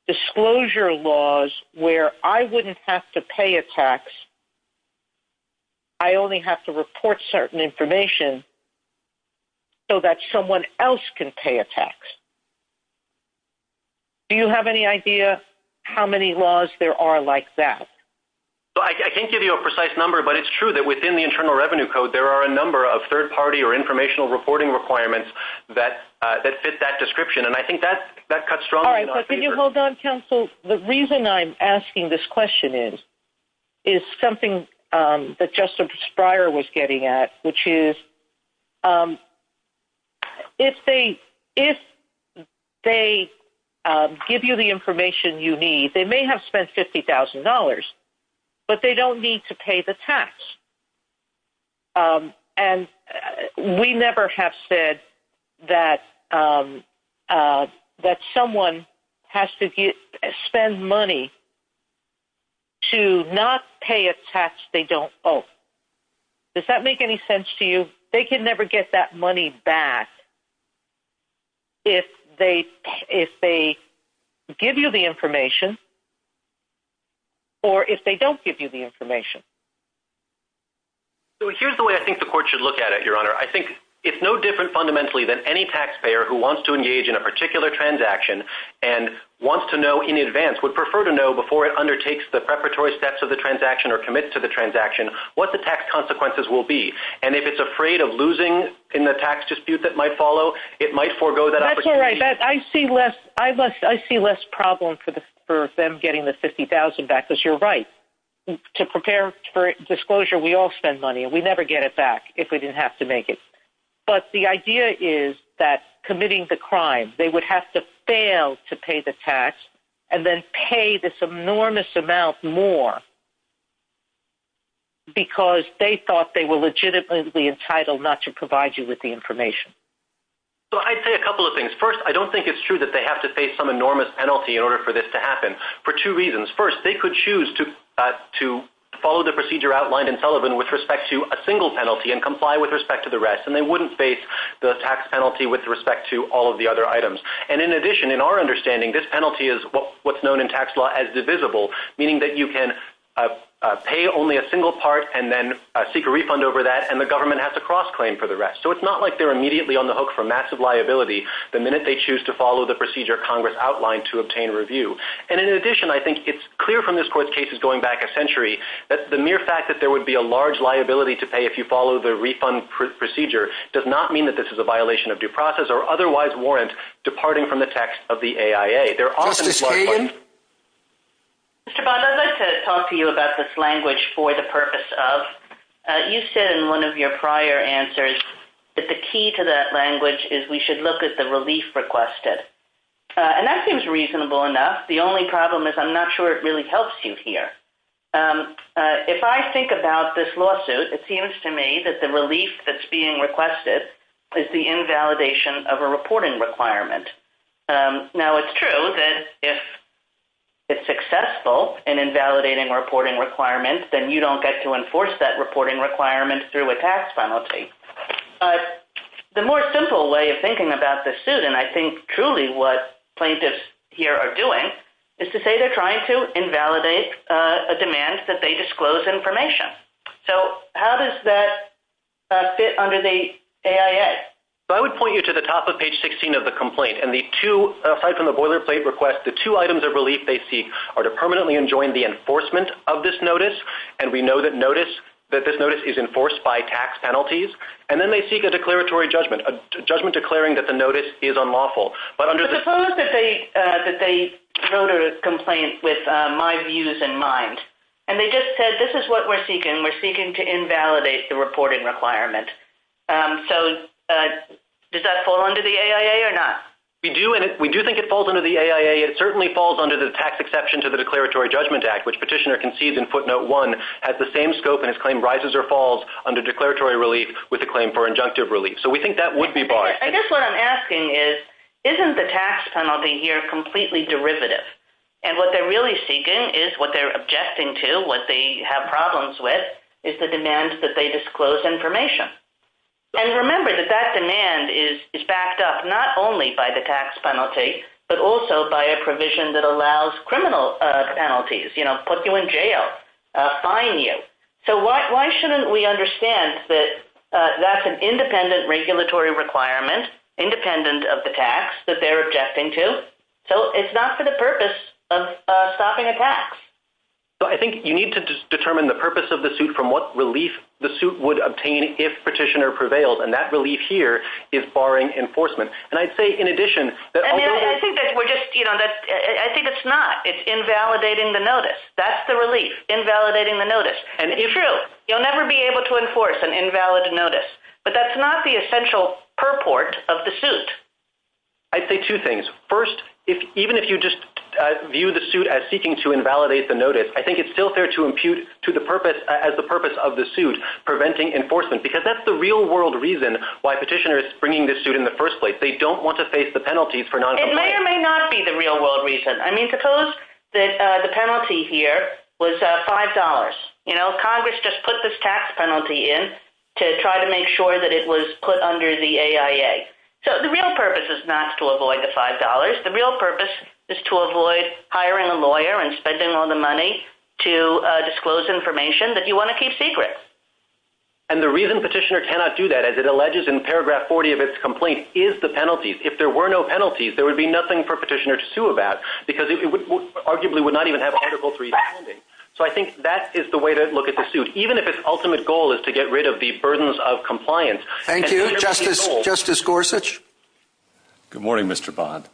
Disclosure laws where I wouldn't have to pay a tax, I only have to report certain information so that someone else can pay a tax. Do you have any idea how many laws there are like that? I can't give you a precise number, but it's true that within the Internal Revenue Code there are a number of third-party or informational reporting requirements that fit that description, and I think that cuts strongly in our favor. All right, but can you hold on, Counsel? The reason I'm asking this question is is something that Justice Breyer was getting at, which is if they give you the information you need, they may have spent $50,000, but they don't need to pay the tax, and we never have said that someone has to spend money to not pay a tax they don't owe. Does that make any sense to you? They can never get that money back if they give you the information or if they don't give you the information. So here's the way I think the Court should look at it, Your Honor. I think it's no different fundamentally than any taxpayer who wants to engage in a particular transaction and wants to know in advance, would prefer to know before it undertakes the preparatory steps of the transaction or commits to the transaction, what the tax consequences will be. And if it's afraid of losing in the tax dispute that might follow, it might forego that opportunity. That's all right. I see less problem for them getting the $50,000 back because you're right. To prepare for disclosure, we all spend money and we never get it back if we didn't have to make it. But the idea is that committing the crime, they would have to fail to pay the tax and then pay this enormous amount more because they thought they were legitimately entitled not to provide you with the information. I'd say a couple of things. First, I don't think it's true that they have to face some enormous penalty in order for this to happen for two reasons. First, they could choose to follow the procedure outlined in Sullivan with respect to a single penalty and comply with respect to the rest and they wouldn't face the tax penalty with respect to all of the other items. And in addition, in our understanding, this penalty is what's known in tax law as divisible, meaning that you can pay only a single part and then seek a refund over that and the government has to cross-claim for the rest. So it's not like they're immediately on the hook for massive liability the minute they choose to follow the procedure Congress outlined to obtain review. And in addition, I think it's clear from this Court's cases going back a century that the mere fact that there would be a large liability to pay if you follow the refund procedure does not mean that this is a violation of due process or otherwise warrant departing from the tax of the AIA. Justice Kagan? Mr. Bond, I'd like to talk to you about this language for the purpose of you said in one of your prior answers that the key to that language is we should look at the relief requested. And that seems reasonable enough. The only problem is I'm not sure it really helps you here. If I think about this lawsuit, it seems to me that the relief that's being requested is the invalidation of a reporting requirement. Now, it's true that if it's successful in invalidating a reporting requirement, then you don't get to enforce that reporting requirement through a tax penalty. But the more simple way of thinking about this suit, and I think truly what plaintiffs here are doing, is to say they're trying to invalidate a demand that they disclose information. So how does that fit under the AIA? I would point you to the top of page 16 of the complaint. And the two, aside from the boilerplate request, the two items of relief they seek are to permanently enjoin the enforcement of this notice. And we know that notice, that this notice is enforced by tax penalties. And then they seek a declaratory judgment, a judgment declaring that the notice is unlawful. But under the... But suppose that they wrote a complaint with my views in mind. And they just said, this is what we're seeking. We're seeking to invalidate the reporting requirement. So does that fall under the AIA or not? We do think it falls under the AIA. It certainly falls under the tax exception to the Declaratory Judgment Act, which Petitioner concedes in footnote one has the same scope in his claim rises or falls under declaratory relief with the claim for injunctive relief. So we think that would be barred. I guess what I'm asking is, isn't the tax penalty here completely derivative? And what they're really seeking is what they're objecting to, what they have problems with, is the demand that they disclose information. And remember that that demand is backed up not only by the tax penalty, but also by a provision that allows criminal penalties, put you in jail, fine you. So why shouldn't we understand that that's an independent regulatory requirement, independent of the tax that they're objecting to? So it's not for the purpose of stopping a tax. I think you need to determine the purpose of the suit from what relief the suit would obtain if Petitioner prevailed. And that relief here is barring enforcement. And I'd say in addition... I think it's not. It's invalidating the notice. That's the relief, invalidating the notice. It's true. You'll never be able to enforce an invalid notice. But that's not the essential purport of the suit. I'd say two things. First, even if you just view the suit as seeking to invalidate the notice, I think it's still fair to impute to the purpose, as the purpose of the suit, preventing enforcement. Because that's the real-world reason why Petitioner is bringing this suit in the first place. They don't want to face the penalties for noncompliance. It may or may not be the real-world reason. I mean, suppose that the penalty here was $5. You know, Congress just put this tax penalty in to try to make sure that it was put under the AIA. So the real purpose is not to avoid the $5. The real purpose is to avoid hiring a lawyer and spending all the money to disclose information that you want to keep secret. And the reason Petitioner cannot do that as it alleges in paragraph 40 of its complaint, is the penalties. If there were no penalties, there would be nothing for Petitioner to sue about because it arguably would not even have Article III standing. So I think that is the way to look at the suit, even if its ultimate goal is to get rid of the burdens of compliance. Thank you. Justice Gorsuch? Good morning, Mr. Bond.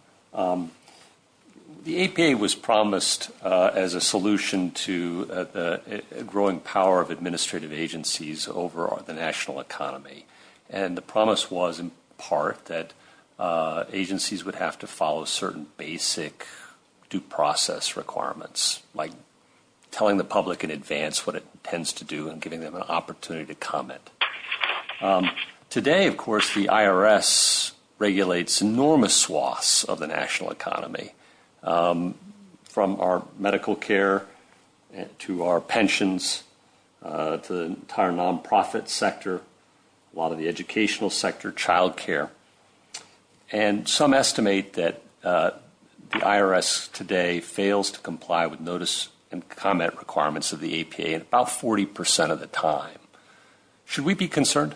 The APA was promised as a solution to the growing power of administrative agencies over the national economy. And the promise was in part that agencies would have to follow certain basic due process requirements, like telling the public in advance what it intends to do and giving them an opportunity to comment. Today, of course, the IRS regulates enormous swaths of the national economy, from our medical care to our pensions to the entire nonprofit sector, a lot of the educational sector, child care. And some estimate that the IRS today fails to comply with notice and comment requirements of the APA about 40% of the time. Should we be concerned?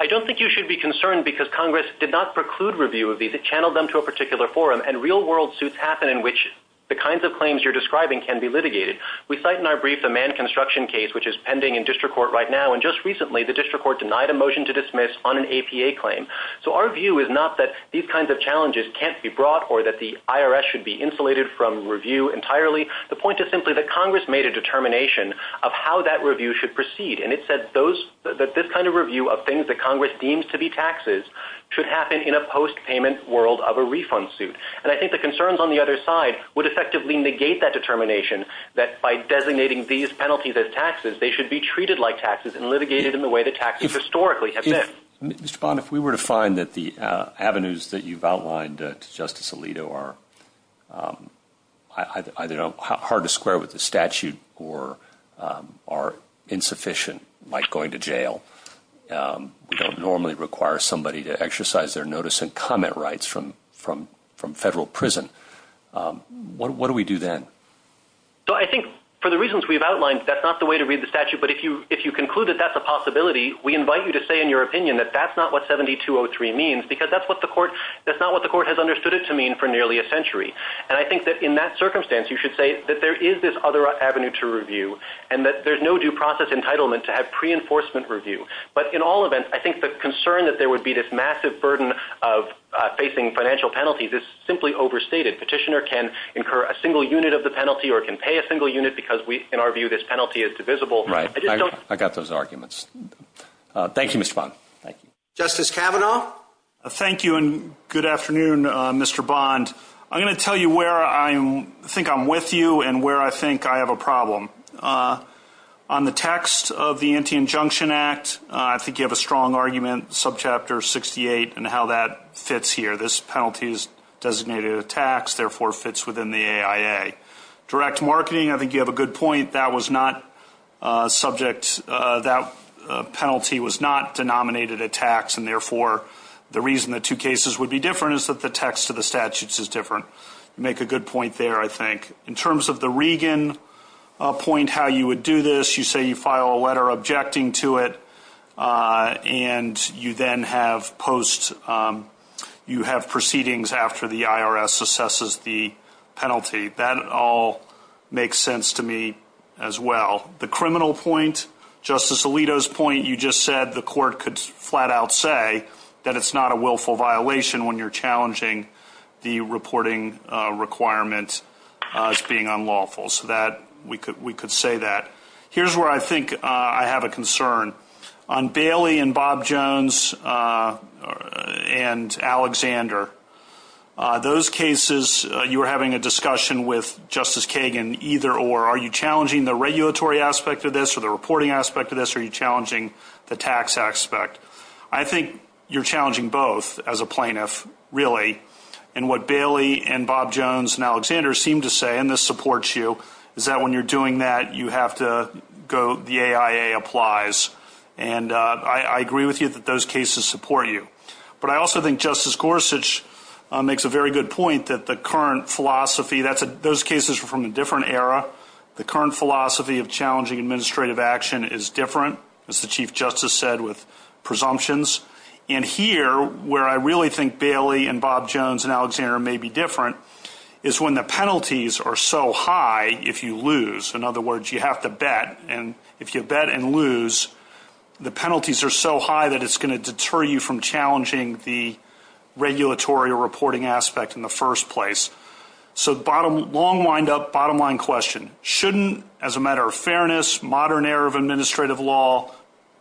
I don't think you should be concerned because Congress did not preclude review of these. It channeled them to a particular forum. And real-world suits happen in which the kinds of claims you're describing can be litigated. We cite in our brief the Mann Construction case, which is pending in district court right now. And just recently, the district court denied a motion to dismiss on an APA claim. So our view is not that these kinds of challenges can't be brought or that the IRS should be insulated from review entirely. The point is simply that Congress made a determination of how that review should proceed. And it said that this kind of review of things that Congress deems to be taxes should happen in a post-payment world of a refund suit. And I think the concerns on the other side would effectively negate that determination that by designating these penalties as taxes, they should be treated like taxes and litigated in the way that taxes historically have been. Mr. Bond, if we were to find that the avenues that you've outlined to Justice Alito are either hard to square with the statute or are insufficient, like going to jail, we don't normally require somebody to exercise their notice and comment rights from federal prison, what do we do then? So I think for the reasons we've outlined, that's not the way to read the statute, but if you conclude that that's a possibility, we invite you to say in your opinion that that's not what 7203 means because that's not what the court has understood it to mean for nearly a century. And I think that in that circumstance, you should say that there is this other avenue to review and that there's no due process entitlement to have pre-enforcement review. But in all events, I think the concern that there would be this massive burden of facing financial penalties is simply overstated. Petitioner can incur a single unit of the penalty or can pay a single unit because in our view this penalty is divisible. Right. I got those arguments. Thank you, Mr. Bond. Thank you. Justice Kavanaugh? Thank you and good afternoon, Mr. Bond. I'm going to tell you where I think I'm with you and where I think I have a problem. On the text of the Anti-Injunction Act, I think you have a strong argument, subchapter 68, and how that fits here. This penalty is designated a tax, therefore it fits within the AIA. Direct marketing, I think you have a good point. That was not subject, that penalty was not denominated a tax and therefore the reason the two cases would be different is that the text of the statutes is different. You make a good point there, I think. In terms of the Regan point, how you would do this, objecting to it and you then have post, you have proceedings after the IRS assesses the penalty. That is not the case. I think you have a good point there. That all makes sense to me as well. The criminal point, Justice Alito's point, you just said the court could flat out say that it's not a willful violation when you're challenging the reporting requirement as being unlawful. So that, we could say that. Here's where I think I have a concern. On Bailey and Bob Jones and Alexander, those cases, you were having a discussion with Justice Kagan either or. Are you challenging the regulatory aspect of this or the reporting aspect of this? Are you challenging the tax aspect? I think you're challenging both as a plaintiff, really. And what Bailey and Bob Jones and Alexander seem to say, and this supports you, is that when you're doing that, you have to go, the AIA applies. And I agree with you that those cases support you. But I also think Justice Gorsuch makes a very good point that the current philosophy, those cases are from a different era. The current philosophy of challenging administrative action is different, as the Chief Justice said, with presumptions. And here, where I really think Bailey and Bob Jones and Alexander may be different, is when the penalties are so high if you lose. In other words, you have to bet. And if you bet and lose, the penalties are so high that it's going to deter you from challenging the regulatory reporting aspect in the first place. So, long wind up, bottom line question. Shouldn't, as a matter of fairness, modern era of administrative law,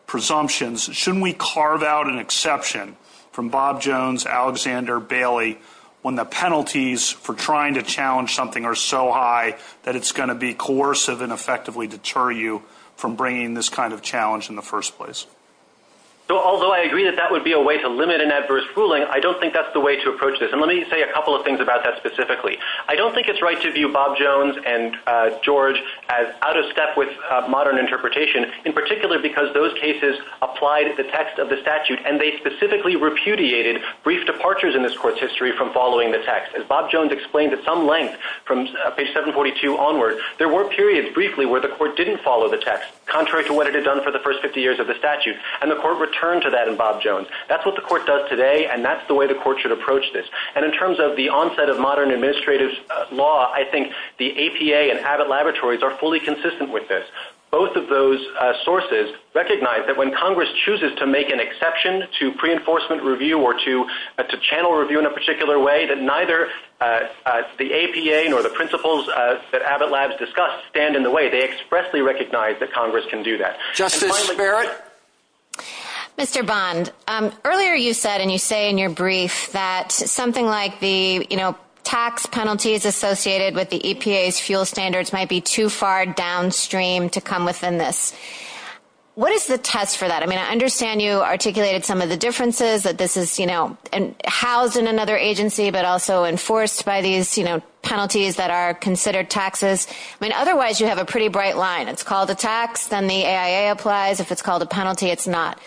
presumptions, shouldn't we carve out an exception from Bob Jones, Alexander, Bailey, when the penalties for trying to challenge something are so high that it's going to be coercive and effectively deter you from bringing this kind of challenge in the first place? So, although I agree that that would be a way to limit an adverse ruling, I don't think that's the way to approach this. And let me say a couple of things about that specifically. I don't think it's right to view Bob Jones and George as out of step with modern interpretation, in particular because those cases applied the text of the statute and they specifically repudiated brief departures in this court's history from following the text. As Bob Jones explained at some length from page 742 onward, there were periods, briefly, where the court didn't follow the text, contrary to what it had done for the first 50 years of the statute. And the court returned to that in Bob Jones. That's what the court does today and that's the way the court should approach this. And in terms of the onset of modern administrative law, I think the APA and Abbott Laboratories are fully consistent with this. Both of those sources recognize that when Congress chooses to make an exception to pre-enforcement review or to channel review in a particular way, that neither the APA nor the principles that Abbott Labs discussed stand in the way. They expressly recognize that Congress can do that. Justice Barrett, Mr. Bond, earlier you said and you say in your brief that something like the tax penalties associated with the EPA's fuel standards might be too far downstream to come within this. What is the test for that? I mean, I understand you articulated some of the differences that this is housed in another agency but also enforced by these penalties that are considered taxes. I mean, otherwise you have a pretty bright line. It's called a tax, then the AIA applies if it's called a penalty, it's not.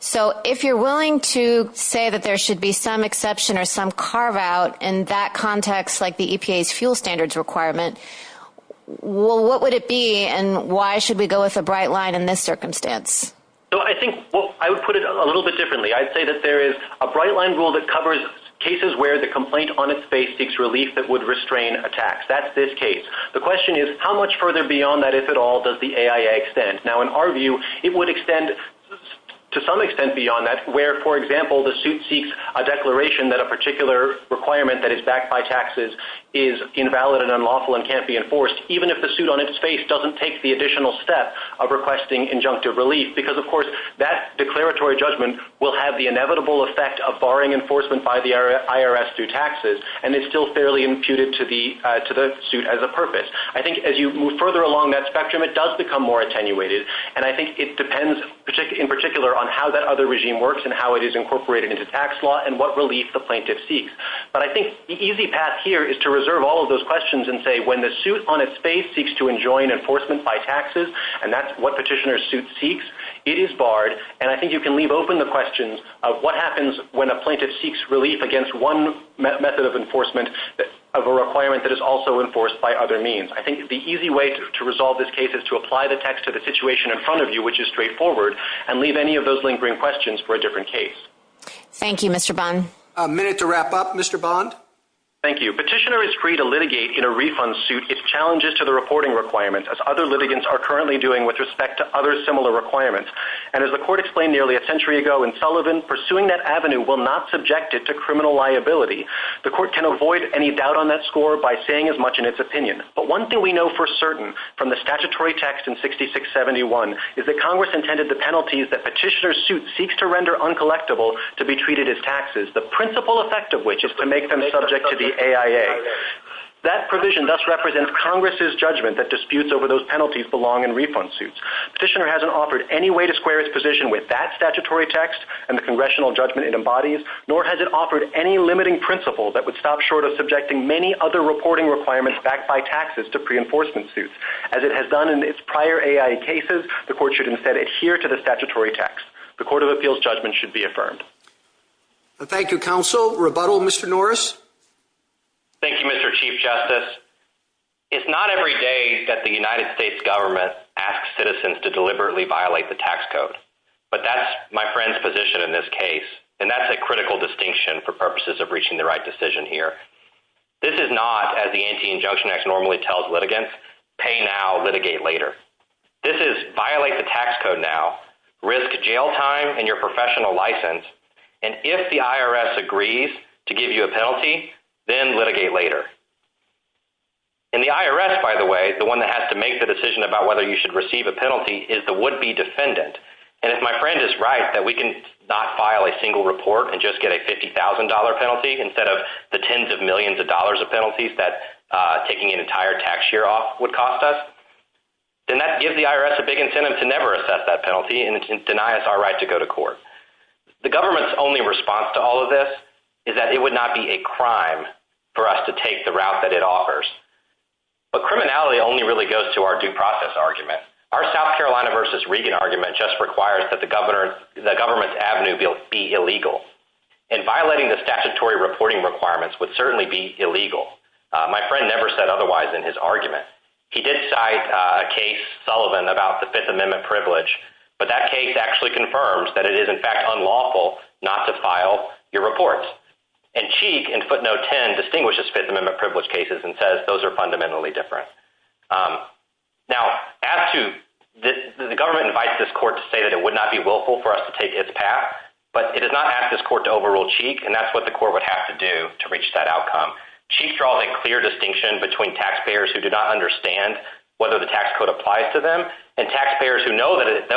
So, if you're willing to say that there should be some exception or some carve out in that context like the EPA's fuel standards requirement, what would it be and why should we go with a bright line in this circumstance? So, I think, I would put it a little bit differently. I'd say that there is a bright line rule that covers cases where the complaint on its base seeks relief that would restrain a tax. That's this case. The question is, how much further beyond that, if at all, does the AIA extend? Now, in our view, it would extend to some extent beyond that where, for example, the suit seeks a declaration that a particular requirement that is backed by taxes is invalid and unlawful and can't be enforced even if the suit on its face doesn't take the additional step of requesting injunctive relief because, of course, that declaratory judgment will have the inevitable effect of barring enforcement by the IRS through taxes and it's still fairly imputed to the suit as a purpose. I think, as you move further along that spectrum, it does become more attenuated and I think it depends in particular on how that other regime works and how it is incorporated into tax law and what relief the plaintiff seeks. But I think the easy path here is to reserve all of those questions and say, when the suit on its face seeks to enjoin enforcement by taxes and that's what petitioner's suit seeks, it is barred and I think you can leave open the questions of what happens when a plaintiff seeks relief against one method of enforcement of a requirement that is also enforced by other means. I think the easy way to resolve this case is to apply the text to the situation in front of you which is straightforward and leave any of those lingering questions for a different case. Thank you, Mr. Bond. A minute to wrap up. Mr. Bond? Thank you. Petitioner is free to litigate in a refund suit if challenged to the reporting requirement as other litigants are currently doing with respect to other similar requirements and as the court explained nearly a century ago in Sullivan, pursuing that avenue will not subject it to criminal liability. The court can avoid any doubt on that score by saying as much in its opinion but one thing we know for certain from the statutory text in 6671 is that Congress intended the penalties that Petitioner's suit seeks to render uncollectible to be treated as taxes the principal effect of which is to make them subject to the AIA. That provision thus represents Congress's judgment that disputes over those penalties belong in refund suits. Petitioner hasn't offered any way to square his position with that statutory text and the congressional judgment it embodies nor has it offered any limiting principle that would stop short of subjecting many other reporting requirements backed by taxes to pre-enforcement suits. As it has done in its prior AIA cases the court should instead adhere to the statutory text. The Court of Appeals judgment should be affirmed. Thank you, Counsel. Rebuttal, Mr. Norris. Thank you, Mr. Chief Justice. that the United States government asks citizens to deliberately violate the tax code but that's my friend's position in this case and I think it's something that should be and that's a critical distinction for purposes of reaching the right decision here. This is not as the Anti-Injunction Act normally tells litigants pay now litigate later. This is violate the tax code now risk jail time and your professional license and if the IRS agrees to give you a penalty then litigate later. In the IRS, by the way the one that has to make the decision about whether you should receive a penalty is the would-be defendant and if my friend is right that we can not file a single report and just get a $50,000 penalty instead of the tens of millions of dollars of penalties that taking an entire tax year off would cost us then that gives the IRS a big incentive to never assess that penalty and deny us our right to go to court. The government's only response to all of this is that it would not be a crime for us to take the route that it offers. But criminality only really goes to our due process argument. Our South Carolina versus Reagan argument just requires that the government avenue be illegal. And violating the statutory reporting requirements would certainly be illegal. My friend never said otherwise in his argument. He did cite a case Sullivan about the Fifth Amendment privilege but that case actually confirms that it is in fact unlawful not to file your reports and Cheek in footnote 10 distinguishes Fifth Amendment privilege cases and says those are fundamentally different. Now, as to the government invites this court to say that it would not be willful for us to take its path but it does not ask this court to overrule Cheek and that's what the court would have to do to reach that outcome. Cheek draws a clear distinction between taxpayers who do not understand whether the tax code applies to them and taxpayers who know that it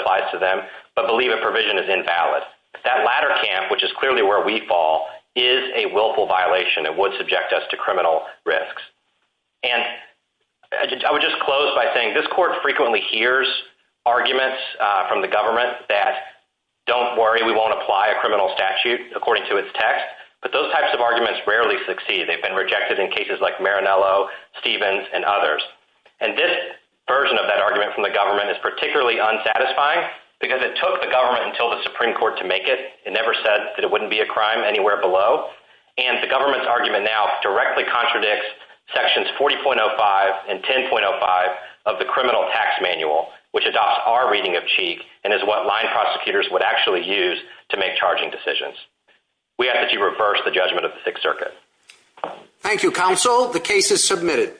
applies to them but believe a provision is invalid. That latter camp which is clearly where we fall is a willful violation that would subject us to criminal risks. And I would just close by saying this court frequently hears arguments from the government that don't worry we won't apply a criminal statute according to its text but those types of arguments rarely succeed. They've been rejected in cases like Marinello, Stevens, and others and this version of that statute is not a crime anywhere below and the government's argument now directly contradicts sections 40.05 and 10.05 of the criminal tax manual which adopts our reading of Cheek and is what line prosecutors would actually use to make charging decisions. We ask that you reverse the judgment of the 6th Circuit. Thank you counsel. The case is